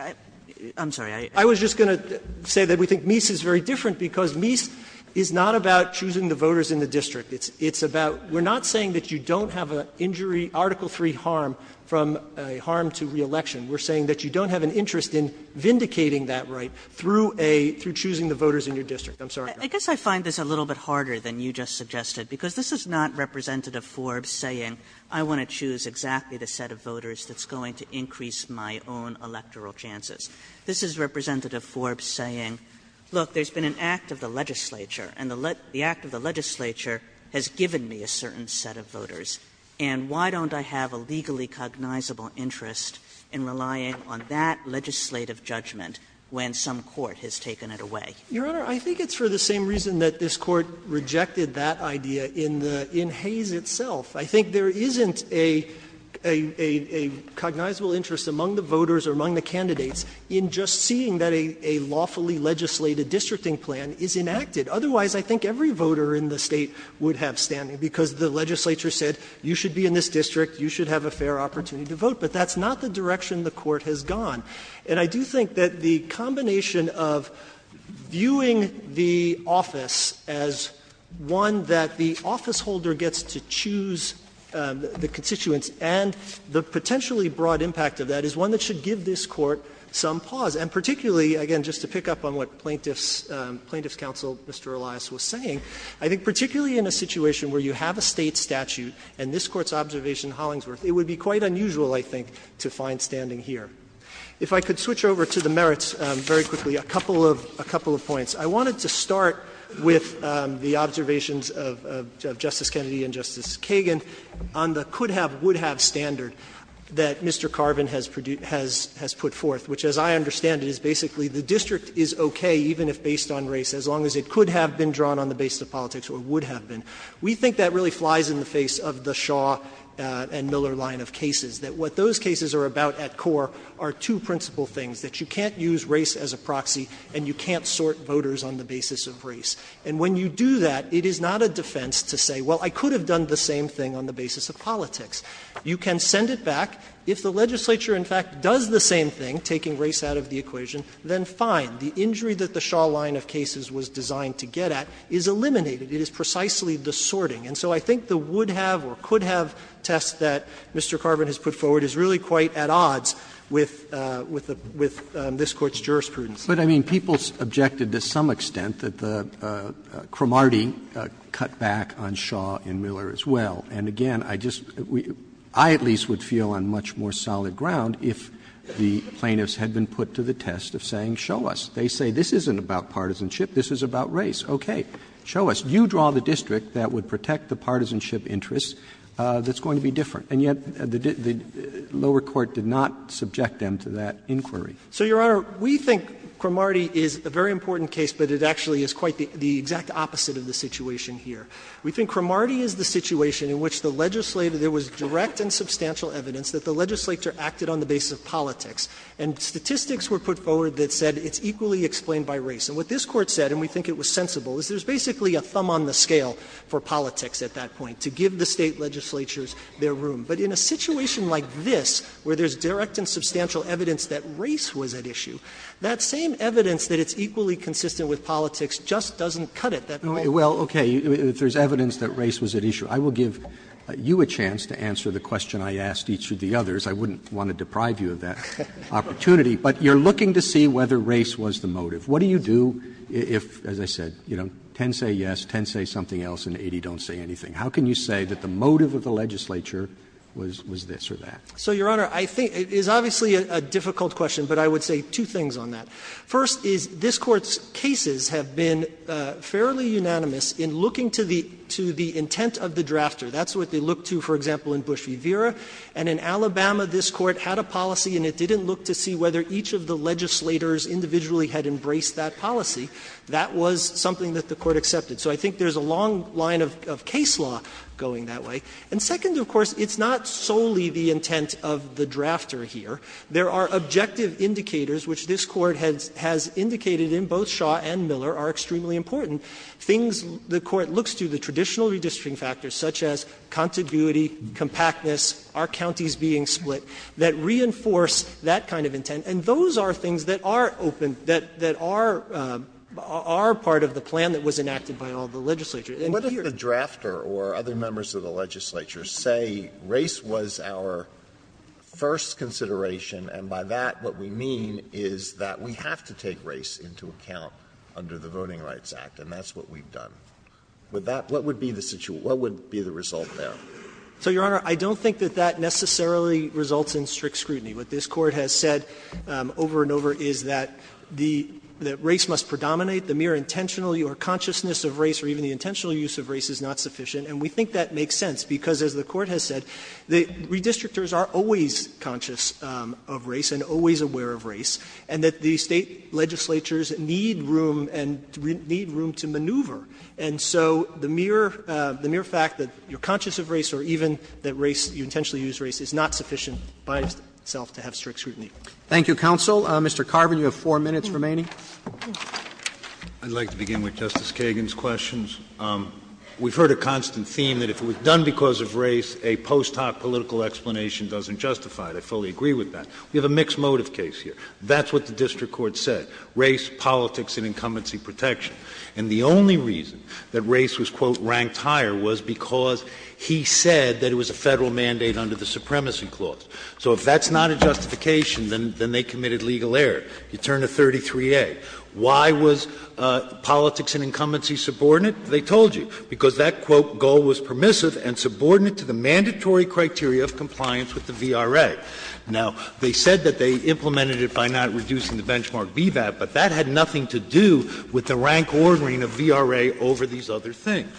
– I'm sorry. I was just going to say that we think Meese is very different because Meese is not about choosing the voters in the district. It's about – we're not saying that you don't have an injury – Article III harm from a harm to reelection. We're saying that you don't have an interest in vindicating that right through a – through choosing the voters in your district. I'm sorry. Kagan. Kagan. I guess I find this a little bit harder than you just suggested because this is not Representative Forbes saying I want to choose exactly the set of voters that's going to increase my own electoral chances. This is Representative Forbes saying, look, there's been an act of the legislature and the act of the legislature has given me a certain set of voters, and why don't I have a legally cognizable interest in relying on that legislative judgment when some court has taken it away? Your Honor, I think it's for the same reason that this Court rejected that idea in Hayes itself. I think there isn't a cognizable interest among the voters or among the candidates in just seeing that a lawfully legislated districting plan is enacted. Otherwise, I think every voter in the state would have standing because the legislature said you should be in this district, you should have a fair opportunity to vote. But that's not the direction the Court has gone. And I do think that the combination of viewing the office as one that the office holder gets to choose the constituents and the potentially broad impact of that is one that should give this Court some pause. And particularly, again, just to pick up on what Plaintiff's Counsel, Mr. Elias, was saying, I think particularly in a situation where you have a State statute and this Court's observation in Hollingsworth, it would be quite unusual, I think, to find standing here. If I could switch over to the merits very quickly, a couple of points. I wanted to start with the observations of Justice Kennedy and Justice Kagan on the standard that Mr. Carvin has put forth, which as I understand it is basically the district is okay even if based on race as long as it could have been drawn on the basis of politics or would have been. We think that really flies in the face of the Shaw and Miller line of cases, that what those cases are about at core are two principal things, that you can't use race as a proxy and you can't sort voters on the basis of race. And when you do that, it is not a defense to say, well, I could have done the same thing on the basis of politics. You can send it back. If the legislature, in fact, does the same thing, taking race out of the equation, then fine. The injury that the Shaw line of cases was designed to get at is eliminated. It is precisely the sorting. And so I think the would-have or could-have test that Mr. Carvin has put forward is really quite at odds with this Court's jurisprudence. Roberts. But, I mean, people objected to some extent that Cromartie cut back on Shaw and Miller as well. And, again, I just — I at least would feel on much more solid ground if the plaintiffs had been put to the test of saying, show us. They say, this isn't about partisanship. This is about race. Okay. Show us. You draw the district that would protect the partisanship interest that's going to be different. And yet the lower court did not subject them to that inquiry. So, Your Honor, we think Cromartie is a very important case, but it actually is quite the exact opposite of the situation here. We think Cromartie is the situation in which the legislative — there was direct and substantial evidence that the legislature acted on the basis of politics, and statistics were put forward that said it's equally explained by race. And what this Court said, and we think it was sensible, is there's basically a thumb on the scale for politics at that point to give the State legislatures their room. But in a situation like this, where there's direct and substantial evidence that race was at issue, that same evidence that it's equally consistent with politics just doesn't cut it. Well, okay, there's evidence that race was at issue. I will give you a chance to answer the question I asked each of the others. I wouldn't want to deprive you of that opportunity. But you're looking to see whether race was the motive. What do you do if, as I said, 10 say yes, 10 say something else, and 80 don't say anything? How can you say that the motive of the legislature was this or that? So, Your Honor, I think it's obviously a difficult question, but I would say two things on that. First is, this Court's cases have been fairly unanimous in looking to the intent of the drafter. That's what they look to, for example, in Bush v. Vera. And in Alabama, this Court had a policy, and it didn't look to see whether each of the legislators individually had embraced that policy. That was something that the Court accepted. So I think there's a long line of case law going that way. And second, of course, it's not solely the intent of the drafter here. There are objective indicators, which this Court has indicated in both Shaw and Miller, are extremely important. Things the Court looks to, the traditional redistricting factors, such as contiguity, compactness, are counties being split, that reinforce that kind of intent. And those are things that are open, that are part of the plan that was enacted by all the legislators. And whether the drafter or other members of the legislature say race was our first consideration, and by that, what we mean is that we have to take race into account under the Voting Rights Act, and that's what we've done. With that, what would be the situation? What would be the result there? So, Your Honor, I don't think that that necessarily results in strict scrutiny. What this Court has said over and over is that the race must predominate. The mere intentional or consciousness of race or even the intentional use of race is not sufficient. And we think that makes sense, because as the Court has said, the redistrictors are always conscious of race and always aware of race, and that the State legislatures need room and need room to maneuver. And so the mere fact that you're conscious of race or even that you intentionally use race is not sufficient by itself to have strict scrutiny. Roberts. Thank you, counsel. Mr. Carvin, you have four minutes remaining. I'd like to begin with Justice Kagan's questions. We've heard a constant theme that if it was done because of race, a post hoc political explanation doesn't justify it. I fully agree with that. We have a mixed motive case here. That's what the district court said, race, politics, and incumbency protection. And the only reason that race was, quote, ranked higher was because he said that it was a Federal mandate under the Supremacy Clause. So if that's not a justification, then they committed legal error. You turn to 33A. Why was politics and incumbency subordinate? They told you, because that, quote, goal was permissive and subordinate to the mandatory criteria of compliance with the VRA. Now, they said that they implemented it by not reducing the benchmark VBAP, but that had nothing to do with the rank ordering of VRA over these other things.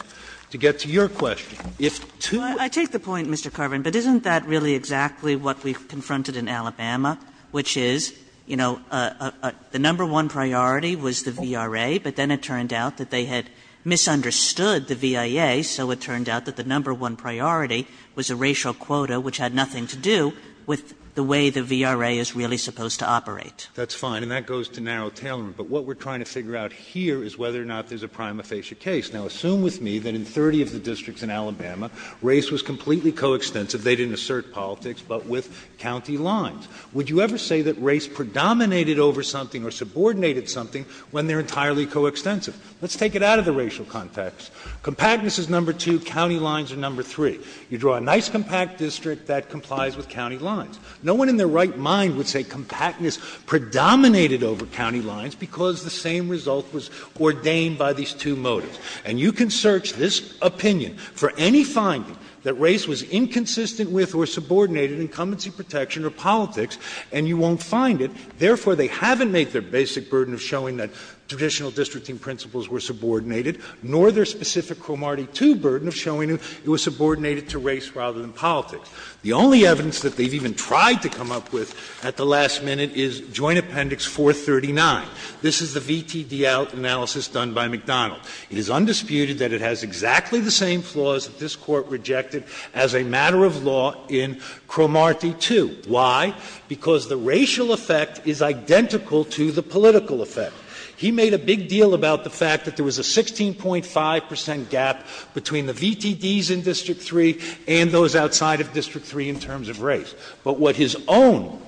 To get to your question, if two — I take the point, Mr. Carvin, but isn't that really exactly what we've confronted in Alabama, which is, you know, the number one priority was the VRA, but then it turned out that they had misunderstood the VIA, so it turned out that the number one priority was the racial quota, which had nothing to do with the way the VRA is really supposed to operate. That's fine, and that goes to narrow tailoring. But what we're trying to figure out here is whether or not there's a prima facie case. Now, assume with me that in 30 of the districts in Alabama, race was completely coextensive. They didn't assert politics, but with county lines. Would you ever say that race predominated over something or subordinated something when they're entirely coextensive? Let's take it out of the racial context. Compactness is number two, county lines are number three. You draw a nice compact district that complies with county lines. No one in their right mind would say compactness predominated over county lines because the same result was ordained by these two motives. And you can search this opinion for any finding that race was inconsistent with or subordinated in competency protection or politics, and you won't find it. Therefore, they haven't made their basic burden of showing that traditional districting principles were subordinated, nor their specific Cromartie II burden of showing it was subordinated to race rather than politics. The only evidence that they've even tried to come up with at the last minute is Joint Appendix 439. This is the VTD analysis done by McDonald. It is undisputed that it has exactly the same flaws that this Court rejected as a matter of law in Cromartie II. Why? Because the racial effect is identical to the political effect. He made a big deal about the fact that there was a 16.5 percent gap between the VTDs in District 3 and those outside of District 3 in terms of race. But what his own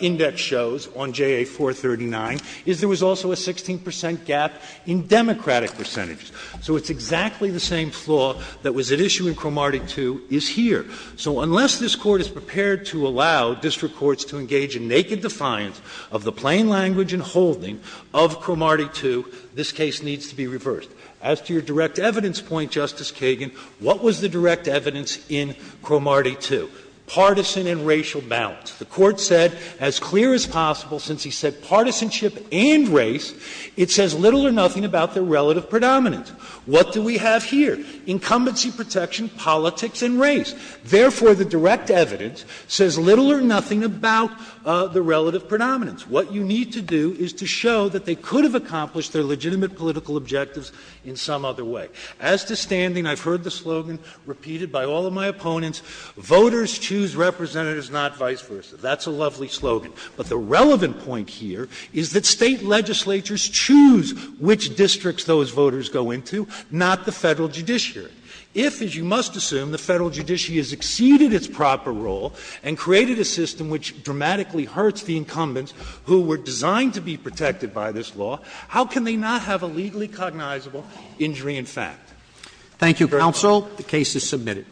index shows on JA 439 is there was also a 16 percent gap in Democratic percentages. So it's exactly the same flaw that was at issue in Cromartie II is here. So unless this Court is prepared to allow district courts to engage in naked defiance of the plain language and holding of Cromartie II, this case needs to be reversed. As to your direct evidence point, Justice Kagan, what was the direct evidence in Cromartie II? Partisan and racial balance. The Court said, as clear as possible, since he said partisanship and race, it says little or nothing about the relative predominance. What do we have here? Incumbency protection, politics, and race. Therefore, the direct evidence says little or nothing about the relative predominance. What you need to do is to show that they could have accomplished their legitimate political objectives in some other way. As to standing, I've heard the slogan repeated by all of my opponents, voters choose representatives, not vice versa. That's a lovely slogan. But the relevant point here is that State legislatures choose which districts those voters go into, not the Federal Judiciary. If, as you must assume, the Federal Judiciary has exceeded its proper role and created a system which dramatically hurts the incumbents who were designed to be protected by this Thank you, counsel. The case is submitted.